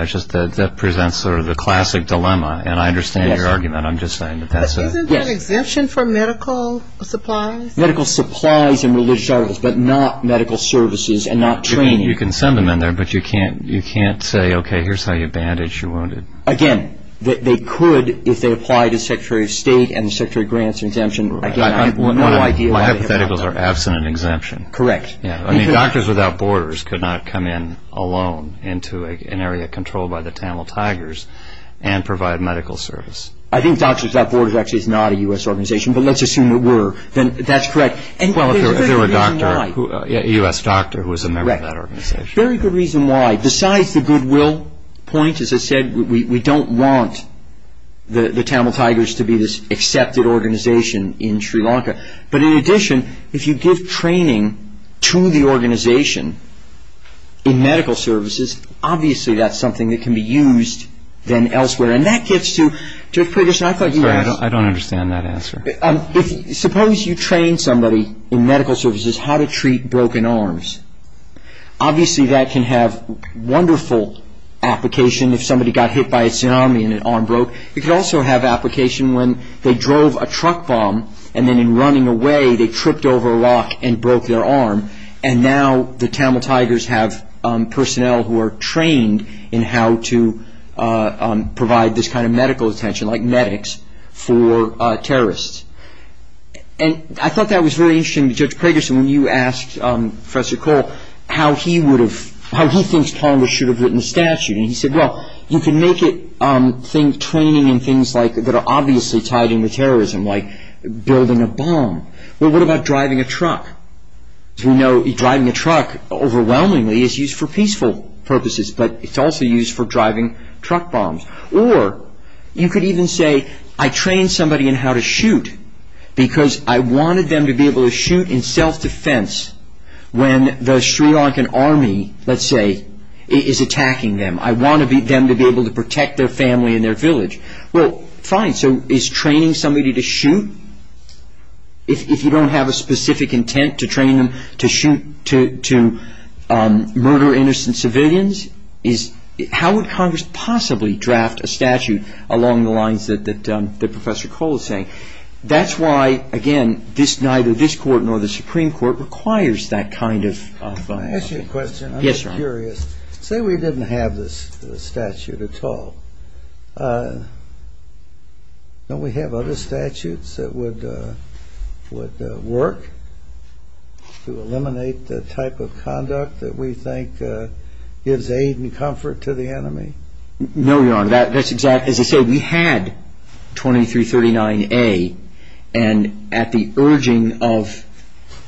That presents sort of the classic dilemma, and I understand your argument. I'm just saying that that's a... Isn't that exemption for medical supplies? Medical supplies and religious articles, but not medical services and not training. You can send them in there, but you can't say, okay, here's how you bandage your wounded. Again, they could if they apply to Secretary of State and the Secretary of Grants exemption rule. My hypotheticals are abstinent exemption. Correct. Doctors Without Borders could not come in alone into an area controlled by the Tamil Tigers and provide medical service. I think Doctors Without Borders actually is not a U.S. organization, but let's assume it were. That's correct. There was a U.S. doctor who was a member of that organization. Very good reason why. Besides the goodwill point, as I said, we don't want the Tamil Tigers to be this accepted organization in Sri Lanka. But in addition, if you give training to the organization in medical services, obviously that's something that can be used then elsewhere. And that gets to... I don't understand that answer. Suppose you train somebody in medical services how to treat broken arms. Obviously that can have wonderful application if somebody got hit by a tsunami and an arm broke. It could also have application when they drove a truck bomb and then in running away, they tripped over a rock and broke their arm. And now the Tamil Tigers have personnel who are trained in how to provide this kind of medical attention, like medics, for terrorists. And I thought that was very interesting. Judge Craigerson, when you asked Professor Cole how he thinks Congress should have written the statute, he said, well, you can make it training in things that are obviously tied to terrorism, like building a bomb. But what about driving a truck? As we know, driving a truck overwhelmingly is used for peaceful purposes, but it's also used for driving truck bombs. Or you could even say, I trained somebody in how to shoot because I wanted them to be able to shoot in self-defense when the Sri Lankan army, let's say, is attacking them. I want them to be able to protect their family and their village. Well, fine. So, is training somebody to shoot, if you don't have a specific intent to train them to shoot, to murder innocent civilians? How would Congress possibly draft a statute along the lines that Professor Cole is saying? That's why, again, neither this court nor the Supreme Court requires that kind of a statute. I have a question. Yes, Your Honor. Say we didn't have this statute at all. Don't we have other statutes that would work to eliminate the type of conduct that we think gives aid and comfort to the enemy? No, Your Honor. As I said, we had 2339A, and at the urging of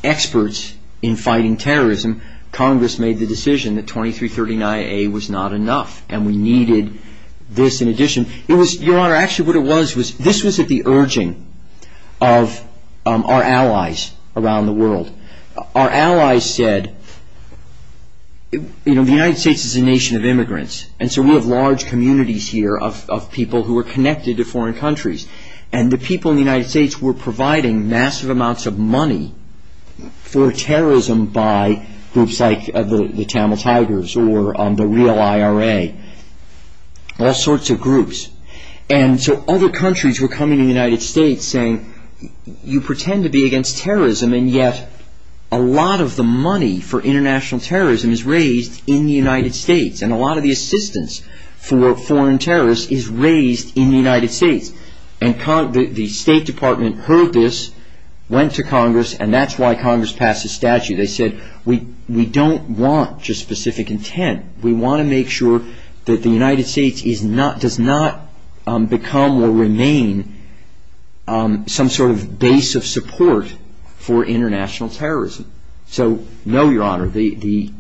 experts in fighting terrorism, Congress made the decision that 2339A was not enough, and we needed this in addition. Your Honor, actually what it was, this was at the urging of our allies around the world. Our allies said, you know, the United States is a nation of immigrants, and so we have large communities here of people who are connected to foreign countries. And the people in the United States were providing massive amounts of money for terrorism by groups like the Camel Tigers, or the real IRA, all sorts of groups. And so other countries were coming to the United States saying, you pretend to be against terrorism, and yet a lot of the money for international terrorism is raised in the United States, and a lot of the assistance for foreign terrorists is raised in the United States. And the State Department heard this, went to Congress, and that's why Congress passed this statute. They said, we don't want just specific intent. We want to make sure that the United States does not become or remain some sort of base of support for international terrorism. So no, Your Honor,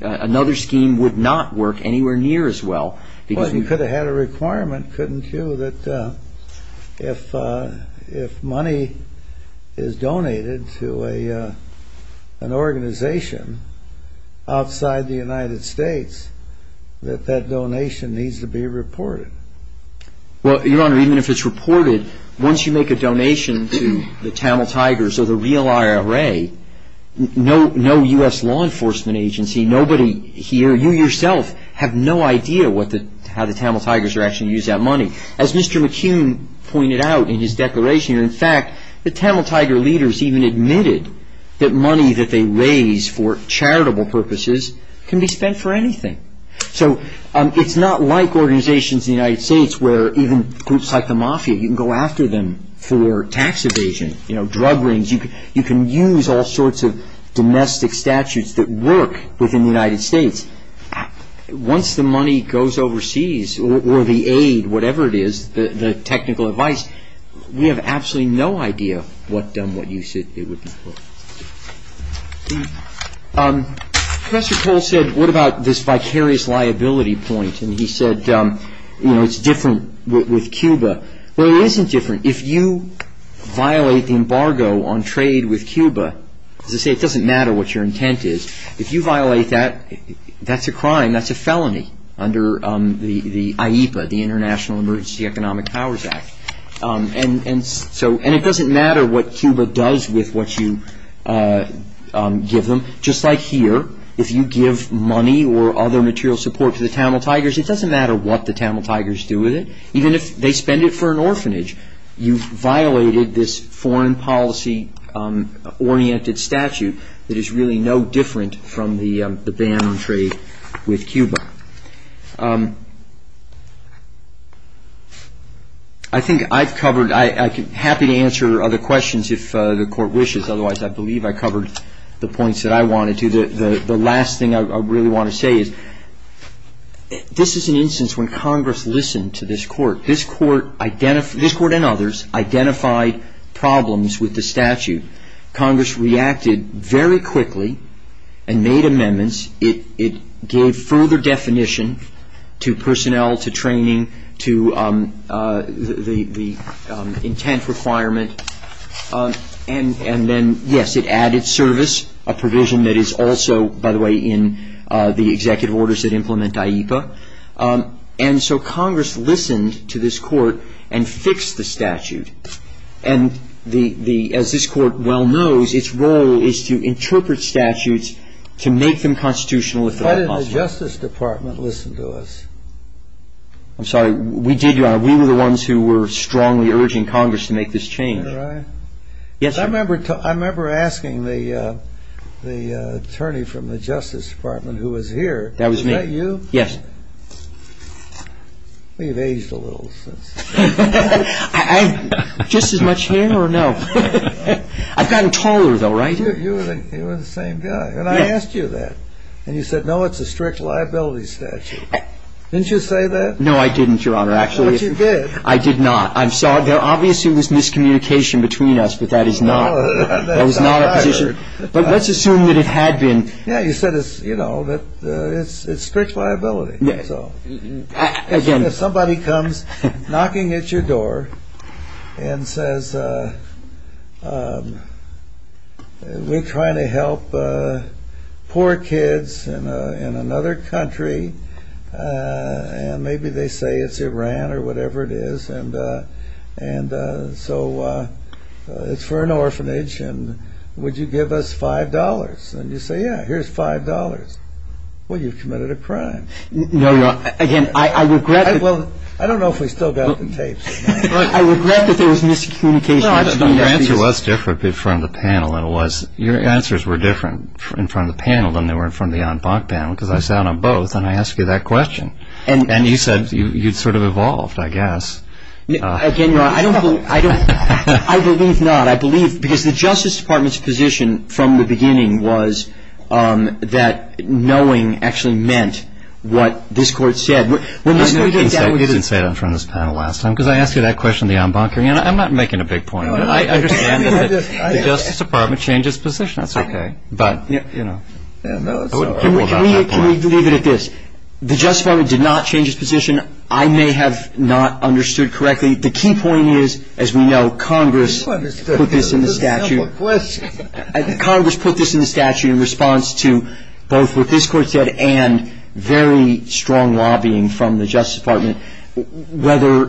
another scheme would not work anywhere near as well. Well, you could have had a requirement, couldn't you, that if money is donated to an organization outside the United States, that that donation needs to be reported. Well, Your Honor, even if it's reported, once you make a donation to the Camel Tigers or the real IRA, no U.S. law enforcement agency, nobody here, you yourself, have no idea how the Camel Tigers are actually using that money. As Mr. McCune pointed out in his declaration, in fact, the Camel Tiger leaders even admitted that money that they raise for charitable purposes can be spent for anything. So it's not like organizations in the United States where even groups like the Mafia, you can go after them for tax evasion, drug rings, you can use all sorts of domestic statutes that work within the United States. Once the money goes overseas, or the aid, whatever it is, the technical advice, we have absolutely no idea what you should be looking for. Professor Cole said, what about this vicarious liability points? Well, it isn't different. If you violate the embargo on trade with Cuba, it doesn't matter what your intent is. If you violate that, that's a crime, that's a felony under the IEPA, the International Emergency Economic Powers Act. And it doesn't matter what Cuba does with what you give them. Just like here, if you give money or other material support to the Camel Tigers, it doesn't matter what the Camel Tigers do with it, even if they spend it for an orphanage. You've violated this foreign policy-oriented statute that is really no different from the ban on trade with Cuba. I'm happy to answer other questions if the Court wishes. Otherwise, I believe I covered the points that I wanted to. The last thing I really want to say is, this is an instance when Congress listened to this Court. This Court and others identified problems with the statute. Congress reacted very quickly and made amendments. It gave further definition to personnel, to training, to the intent requirement. And then, yes, it added service, a provision that is also, by the way, in the executive orders that implement IEPA. And so Congress listened to this Court and fixed the statute. And as this Court well knows, its role is to interpret statutes to make them constitutional. Why didn't the Justice Department listen to us? I'm sorry, we did, Your Honor. We were the ones who were strongly urging Congress to make this change. I remember asking the attorney from the Justice Department who was here. That was me. Was that you? Yes. We've aged a little. Just as much hair or no? I've gotten taller, though, right? You were the same guy. And I asked you that. And you said, no, it's a strict liability statute. Didn't you say that? No, I didn't, Your Honor. But you did. I did not. Obviously, there was miscommunication between us, but that is not a position. But let's assume that it had been. Yeah, you said it's strict liability. Somebody comes knocking at your door and says, we're trying to help poor kids in another country. And maybe they say it's Iran or whatever it is. And so it's for an orphanage. And would you give us $5? And you say, yeah, here's $5. Well, you've committed a crime. No, Your Honor. Again, I regret that. I don't know if we still got the tapes. I regret that there was miscommunication. Your answer was different in front of the panel than it was. Your answers were different in front of the panel than they were in front of the en banc panel, because I sat on both and I asked you that question. And you said you sort of evolved, I guess. Again, Your Honor, I don't believe. I believe not. But I believe, because the Justice Department's position from the beginning was that knowing actually meant what this Court said. You didn't say that in front of this panel last time, because I asked you that question in the en banc. I'm not making a big point. I understand that the Justice Department changed its position on something. Okay. But, you know. Can we leave it at this? The Justice Department did not change its position. I may have not understood correctly. The key point is, as we know, Congress put this in the statute. Congress put this in the statute in response to both what this Court said and very strong lobbying from the Justice Department. Whether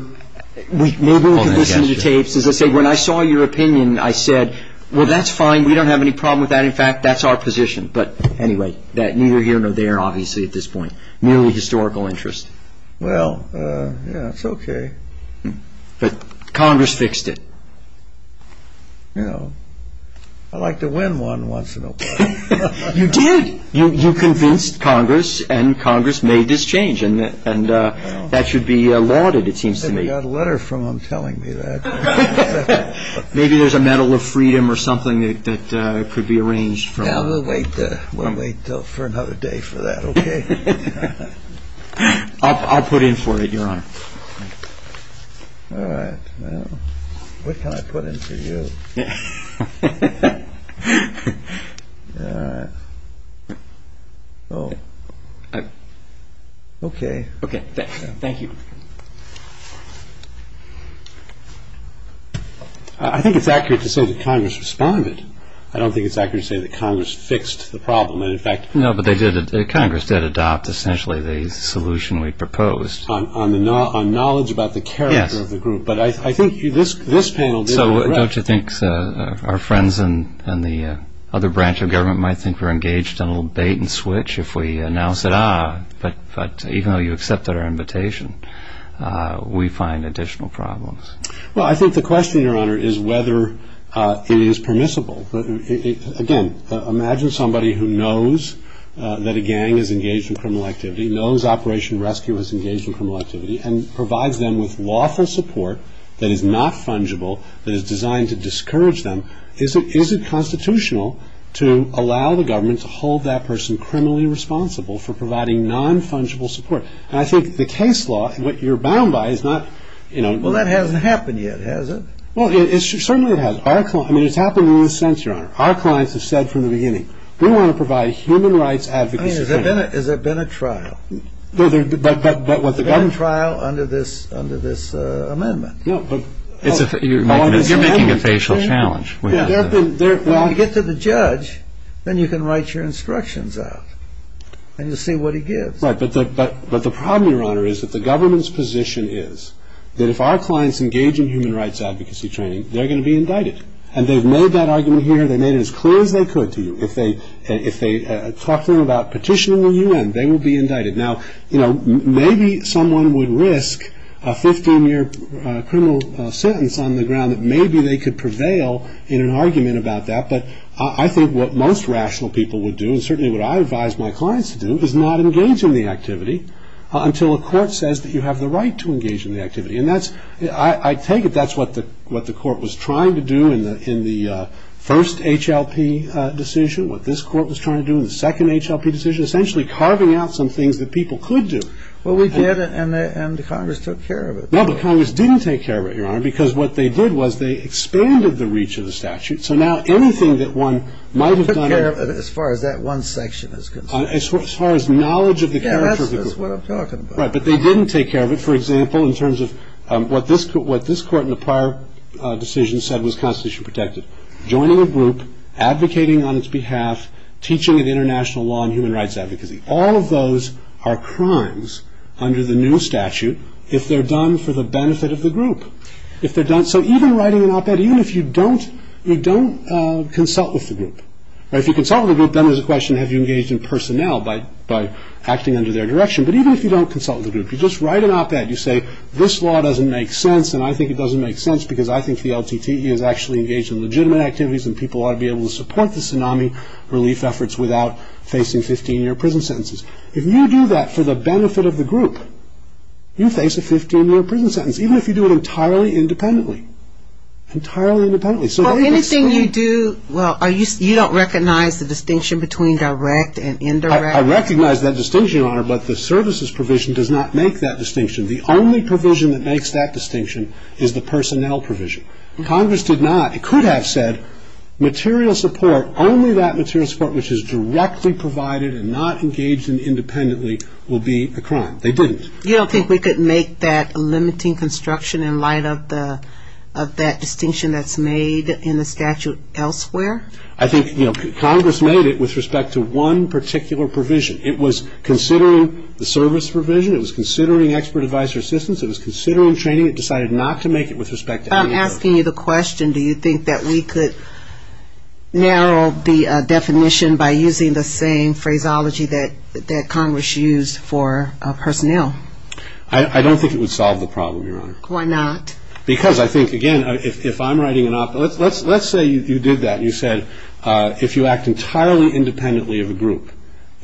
we may be able to get these tapes. When I saw your opinion, I said, well, that's fine. We don't have any problem with that. In fact, that's our position. But anyway, neither here nor there, obviously, at this point. Merely historical interest. Well, yeah, it's okay. But Congress fixed it. You know, I like to win one once in a while. You did. You convinced Congress and Congress made this change. And that should be lauded, it seems to me. I got a letter from them telling me that. Maybe there's a Medal of Freedom or something that could be arranged. We'll wait for another day for that. Okay. I'll put in for it, Your Honor. All right. What can I put in for you? All right. Okay. Okay. Thank you. I think it's accurate to say that Congress responded. I don't think it's accurate to say that Congress fixed the problem. No, but they did. Congress did adopt, essentially, the solution we proposed. On knowledge about the character of the group. Yes. But I think this panel did. So don't you think our friends in the other branch of government might think we're engaged in a little bait and switch if we announce it? Ah, but even though you accepted our invitation, we find additional problems. Well, I think the question, Your Honor, is whether it is permissible. Again, imagine somebody who knows that a gang is engaged in criminal activity, knows Operation Rescue is engaged in criminal activity, and provides them with lawful support that is not fungible, that is designed to discourage them. Is it constitutional to allow the government to hold that person criminally responsible for providing non-fungible support? And I think the case law, what you're bound by, is not, you know. Well, that hasn't happened yet, has it? Well, certainly it has. I mean, it's happened in a sense, Your Honor. Our clients have said from the beginning, we want to provide human rights advocacy training. I mean, has there been a trial? But what the government… There's been a trial under this amendment. No, but… You're making a facial challenge. When you get to the judge, then you can write your instructions out and you'll see what he gives. Right, but the problem, Your Honor, is that the government's position is that if our clients engage in human rights advocacy training, they're going to be indicted. And they've made that argument here. They've made it as clear as they could to you. If they talk to you about petitioning the UN, they will be indicted. Now, you know, maybe someone would risk a 15-year criminal sentence on the ground, that maybe they could prevail in an argument about that. But I think what most rational people would do, and certainly what I advise my clients to do, is not engage in the activity until a court says that you have the right to engage in the activity. And I take it that's what the court was trying to do in the first HLP decision, what this court was trying to do in the second HLP decision, essentially carving out some things that people could do. Well, we did, and the Congress took care of it. No, the Congress didn't take care of it, Your Honor, because what they did was they expanded the reach of the statute. So now anything that one might have done… They took care of it as far as that one section is concerned. As far as knowledge of the… Yeah, that's what I'm talking about. Right, but they didn't take care of it, for example, in terms of what this court in the prior decision said was constitutionally protected. Joining a group, advocating on its behalf, teaching of international law and human rights advocacy. All of those are crimes under the new statute if they're done for the benefit of the group. So even writing an op-ed, even if you don't consult with the group. If you consult with the group, then there's a question, have you engaged in personnel by acting under their direction? But even if you don't consult with the group, if you're just writing an op-ed, you say, this law doesn't make sense, and I think it doesn't make sense because I think the LTTE is actually engaged in legitimate activities and people ought to be able to support the tsunami relief efforts without facing 15-year prison sentences. If you do that for the benefit of the group, you face a 15-year prison sentence, even if you do it entirely independently. Entirely independently. So anything you do… Well, you don't recognize the distinction between direct and indirect? I recognize that distinction, Your Honor, but the services provision does not make that distinction. The only provision that makes that distinction is the personnel provision. Congress did not. It could have said material support, only that material support which is directly provided and not engaged in independently will be the crime. They didn't. You don't think we could make that limiting construction in light of that distinction that's made in the statute elsewhere? I think Congress made it with respect to one particular provision. It was considering the service provision. It was considering expert advice or assistance. It was considering training. It decided not to make it with respect to any of those. I'm asking you the question. Do you think that we could narrow the definition by using the same phraseology that Congress used for personnel? I don't think it would solve the problem, Your Honor. Why not? Because I think, again, if I'm writing an op, let's say you did that. You said if you act entirely independently of a group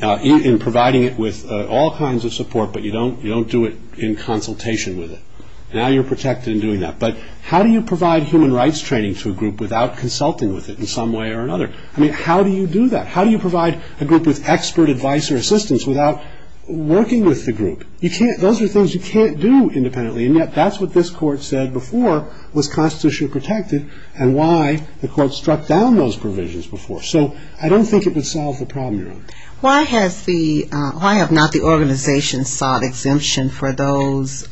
in providing it with all kinds of support, but you don't do it in consultation with it, now you're protected in doing that. But how do you provide human rights training to a group without consulting with it in some way or another? I mean, how do you do that? How do you provide a group with expert advice or assistance without working with the group? You can't. Those are things you can't do independently. And yet that's what this court said before was constitutionally protected and why the court struck down those provisions before. So I don't think it would solve the problem, Your Honor. Why have not the organization sought exemption for those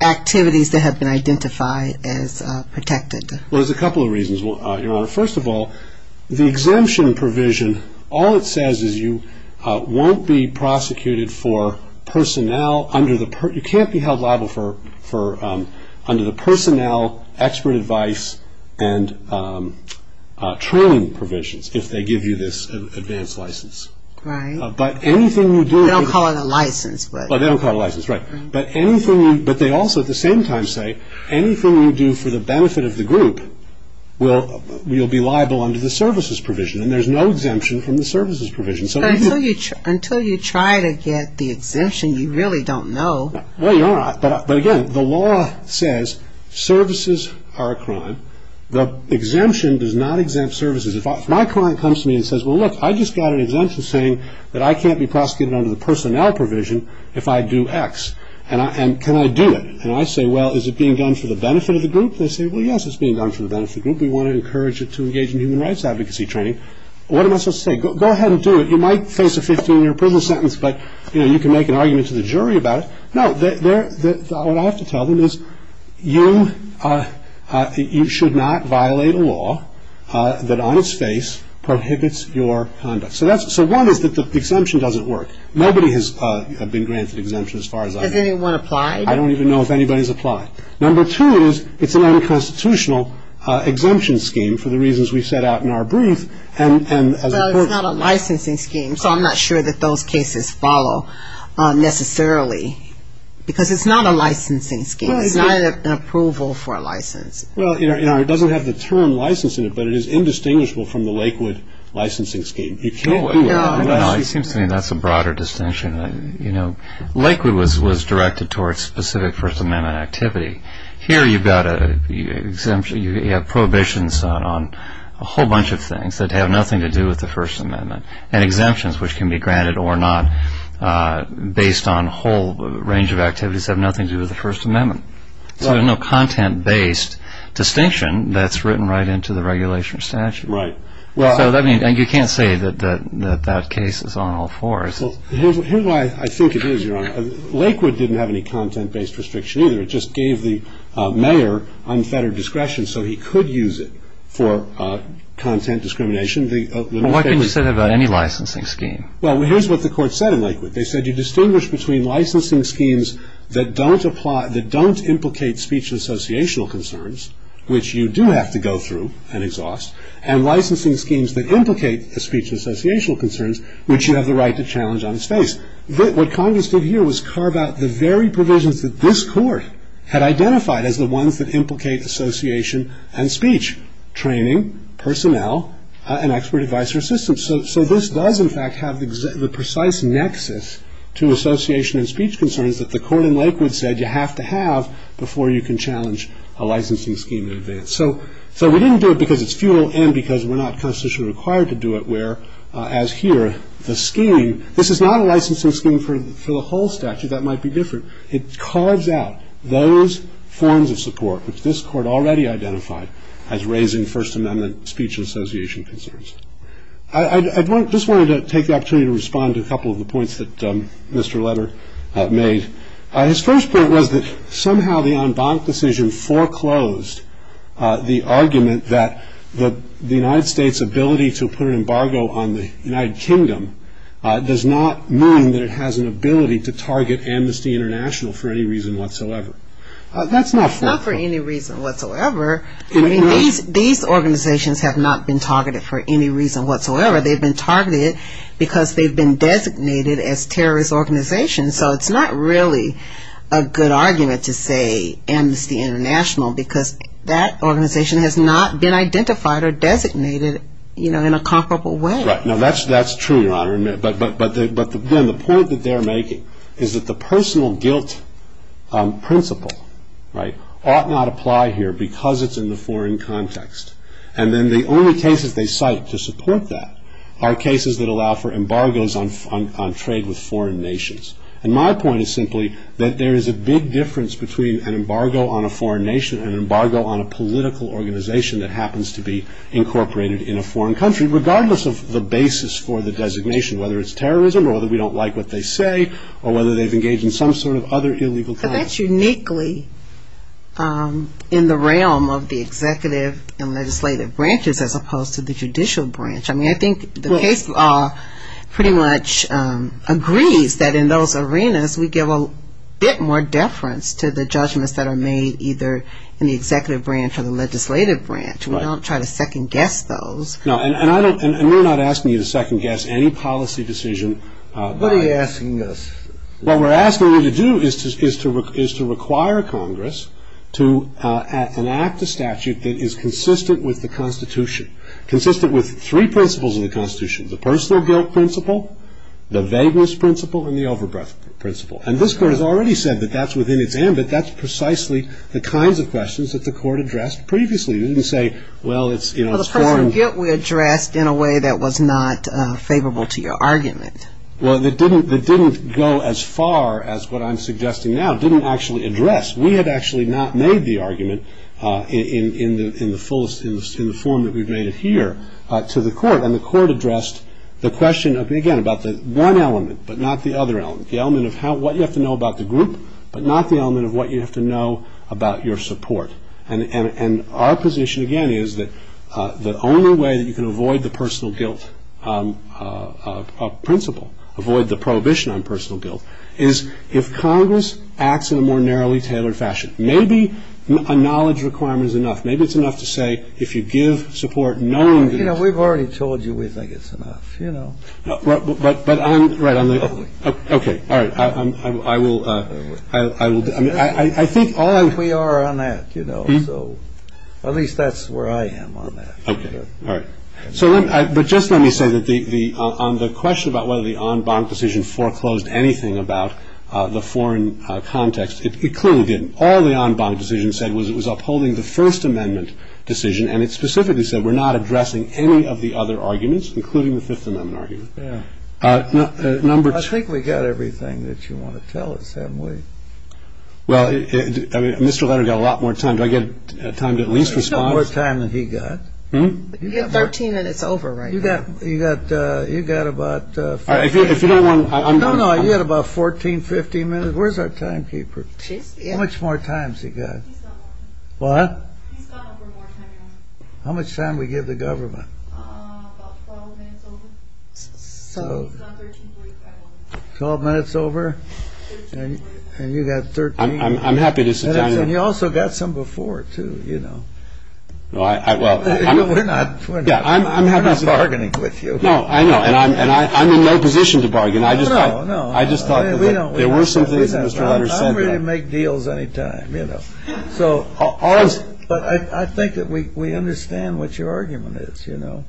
activities that have been identified as protected? Well, there's a couple of reasons, Your Honor. First of all, the exemption provision, all it says is you won't be prosecuted for personnel under the personnel expert advice and training provisions if they give you this advanced license. Right. But anything you do They don't call it a license, but They don't call it a license, right. But they also at the same time say anything you do for the benefit of the group will be liable under the services provision. And there's no exemption in the services provision. So until you try to get the exemption, you really don't know. No, Your Honor. But again, the law says services are a crime. The exemption does not exempt services. If my client comes to me and says, well, look, I just got an exemption saying that I can't be prosecuted under the personnel provision if I do X. And can I do it? And I say, well, is it being done for the benefit of the group? I don't think we want to encourage you to engage in human rights advocacy training. What am I supposed to say? Go ahead and do it. You might face a 15-year prison sentence, but you can make an argument to the jury about it. No, what I have to tell them is you should not violate a law that on its face prohibits your conduct. So one is that the exemption doesn't work. Nobody has been granted exemption as far as I know. Has anyone applied? I don't even know if anybody has applied. Number two is it's an unconstitutional exemption scheme for the reasons we set out in our brief. Well, it's not a licensing scheme, so I'm not sure that those cases follow necessarily. Because it's not a licensing scheme. It's not an approval for a license. Well, you know, it doesn't have the term license in it, but it is indistinguishable from the Lakewood licensing scheme. I think that's a broader distinction. Lakewood was directed towards specific First Amendment activity. Here you have prohibitions on a whole bunch of things that have nothing to do with the First Amendment. And exemptions, which can be granted or not, based on a whole range of activities, have nothing to do with the First Amendment. So there's no content-based distinction that's written right into the regulation or statute. And you can't say that that case is on all fours. Well, here's why I think it is, Your Honor. Lakewood didn't have any content-based restriction either. It just gave the mayor unfettered discretion so he could use it for content discrimination. What can you say about any licensing scheme? Well, here's what the court said in Lakewood. They said you distinguish between licensing schemes that don't implicate speech and associational concerns, which you do have to go through and exhaust, and licensing schemes that implicate the speech and associational concerns, which you have the right to challenge on its face. What Congress did here was carve out the very provisions that this court had identified as the ones that implicate association and speech, training, personnel, and expert advice or assistance. So this does, in fact, have the precise nexus to association and speech concerns that the court in Lakewood said you have to have before you can challenge a licensing scheme in advance. So we didn't do it because it's futile and because we're not constitutionally required to do it, where, as here, the scheme, this is not a licensing scheme for the whole statute. That might be different. It carves out those forms of support which this court already identified as raising First Amendment speech and association concerns. I just wanted to take the opportunity to respond to a couple of the points that Mr. Letter made. His first point was that somehow the en banc decision foreclosed the argument that the United States' ability to put an embargo on the United Kingdom does not mean that it has an ability to target Amnesty International for any reason whatsoever. That's not fair. Not for any reason whatsoever. These organizations have not been targeted for any reason whatsoever. They've been targeted because they've been designated as terrorist organizations. So it's not really a good argument to say Amnesty International because that organization has not been identified or designated, you know, in a comparable way. Right. No, that's true, Your Honor. But, again, the point that they're making is that the personal guilt principle, right, ought not apply here because it's in the foreign context. And then the only cases they cite to support that are cases that allow for embargoes on trade with foreign nations. And my point is simply that there is a big difference between an embargo on a foreign nation and an embargo on a political organization that happens to be incorporated in a foreign country, regardless of the basis for the designation, whether it's terrorism or whether we don't like what they say or whether they've engaged in some sort of other illegal conduct. But that's uniquely in the realm of the executive and legislative branches as opposed to the judicial branch. I mean, I think the case law pretty much agrees that in those arenas, we give a bit more deference to the judgments that are made either in the executive branch or the legislative branch. We don't try to second-guess those. No, and we're not asking you to second-guess any policy decision. What are you asking us? What we're asking you to do is to require Congress to enact a statute that is consistent with the Constitution, consistent with three principles of the Constitution, the personal guilt principle, the vagueness principle, and the overbreadth principle. And this Court has already said that that's within its ambit. That's precisely the kinds of questions that the Court addressed previously. It didn't say, well, it's foreign. But the personal guilt was addressed in a way that was not favorable to your argument. Well, it didn't go as far as what I'm suggesting now. It didn't actually address. We had actually not made the argument in the form that we've made it here to the Court. And the Court addressed the question, again, about the one element but not the other element, the element of what you have to know about the group but not the element of what you have to know about your support. And our position, again, is that the only way that you can avoid the personal guilt principle, avoid the prohibition on personal guilt, is if Congress acts in a more narrowly tailored fashion. Maybe a knowledge requirement is enough. Maybe it's enough to say if you give support, no one gives it. You know, we've already told you we think it's enough, you know. Right. Okay. All right. I will. I think all of you. We are on that, you know. So at least that's where I am on that. Okay. All right. But just let me say that on the question about whether the en banc decision foreclosed anything about the foreign context, it clearly didn't. All the en banc decision said was it was upholding the First Amendment decision, and it specifically said we're not addressing any of the other arguments, including the Fifth Amendment argument. Yeah. Number two. I think we got everything that you want to tell us, haven't we? Well, I mean, Mr. Leonard got a lot more time. Did I get time to at least respond? He's got more time than he got. He's got 13 minutes over right now. You got about 14, 15 minutes. Where's our timekeeper? How much more time has he got? What? He's got over 100 minutes. How much time did we give the government? About 12 minutes over. 12 minutes over? And you got 13. I'm happy to sit down. And you also got some before, too, you know. We're not bargaining with you. No, I know. And I'm in no position to bargain. I just thought that there were some things that Mr. Leonard spoke about. I'm ready to make deals any time, you know. But I think that we understand what your argument is, you know.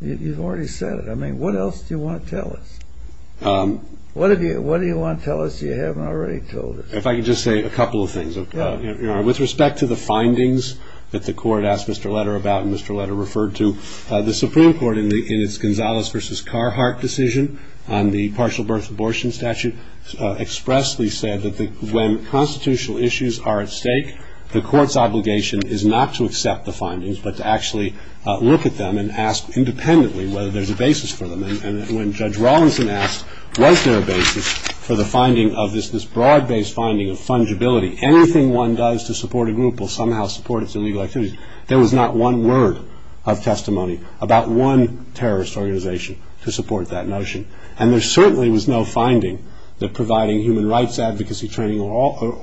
You've already said it. I mean, what else do you want to tell us? What do you want to tell us that you haven't already told us? If I could just say a couple of things. With respect to the findings that the court asked Mr. Leonard about and Mr. Leonard referred to, the Supreme Court in its Gonzalez v. Carhart decision on the partial birth abortion statute expressly said that when constitutional issues are at stake, the court's obligation is not to accept the findings but to actually look at them and ask independently whether there's a basis for them. And when Judge Rawlinson asked what's their basis for the finding of this, this broad-based finding of fungibility, anything one does to support a group will somehow support its illegal activities, there was not one word of testimony about one terrorist organization to support that notion. And there certainly was no finding that providing human rights advocacy training or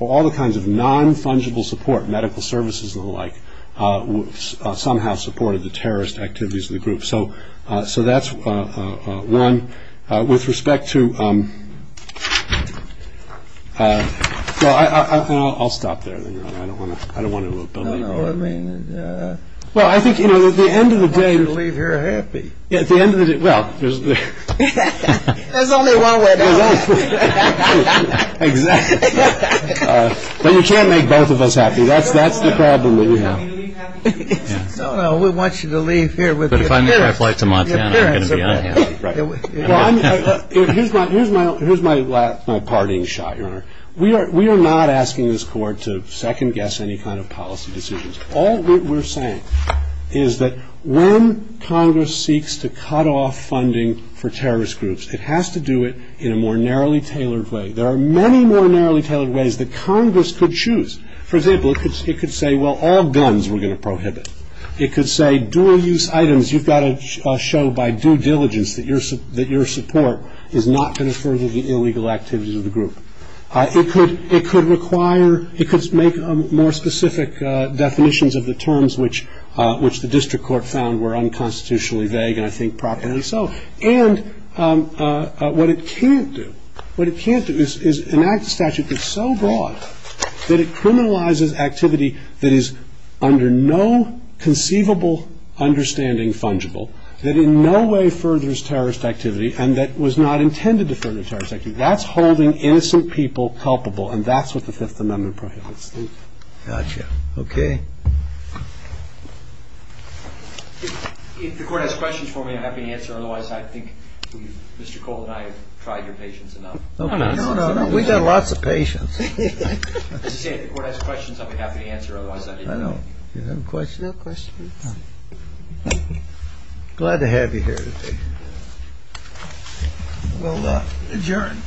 all the kinds of non-fungible support, medical services and the like, somehow supported the terrorist activities of the group. So that's one. With respect to, well, I'll stop there. I don't want to build on that. Well, I think, you know, at the end of the day, I want you to leave here happy. At the end of the day, well, there's only one way to go. Exactly. But you can't make both of us happy. That's the problem that we have. Well, we want you to leave here with us. Here's my parting shot here. We are not asking this court to second-guess any kind of policy decisions. All we're saying is that when Congress seeks to cut off funding for terrorist groups, it has to do it in a more narrowly tailored way. There are many more narrowly tailored ways that Congress could choose. For example, it could say, well, all BINs we're going to prohibit. It could say dual-use items, you've got to show by due diligence that your support is not going to further the illegal activities of the group. It could require, it could make more specific definitions of the terms which the district court found were unconstitutionally vague and I think proper. And so, and what it can't do, what it can't do is enact a statute that's so broad that it criminalizes activity that is under no conceivable understanding fungible, that in no way furthers terrorist activity and that was not intended to further terrorist activity. That's holding innocent people culpable and that's what the Fifth Amendment prohibits. Gotcha. Okay. If the court has questions for me, I'm happy to answer, otherwise I think Mr. Cole and I have tried your patience enough. We've done lots of patience. If the court has questions, I'll be happy to answer, otherwise I think... Is there a question? No question. Thank you. Glad to have you here today. Well, adjourned.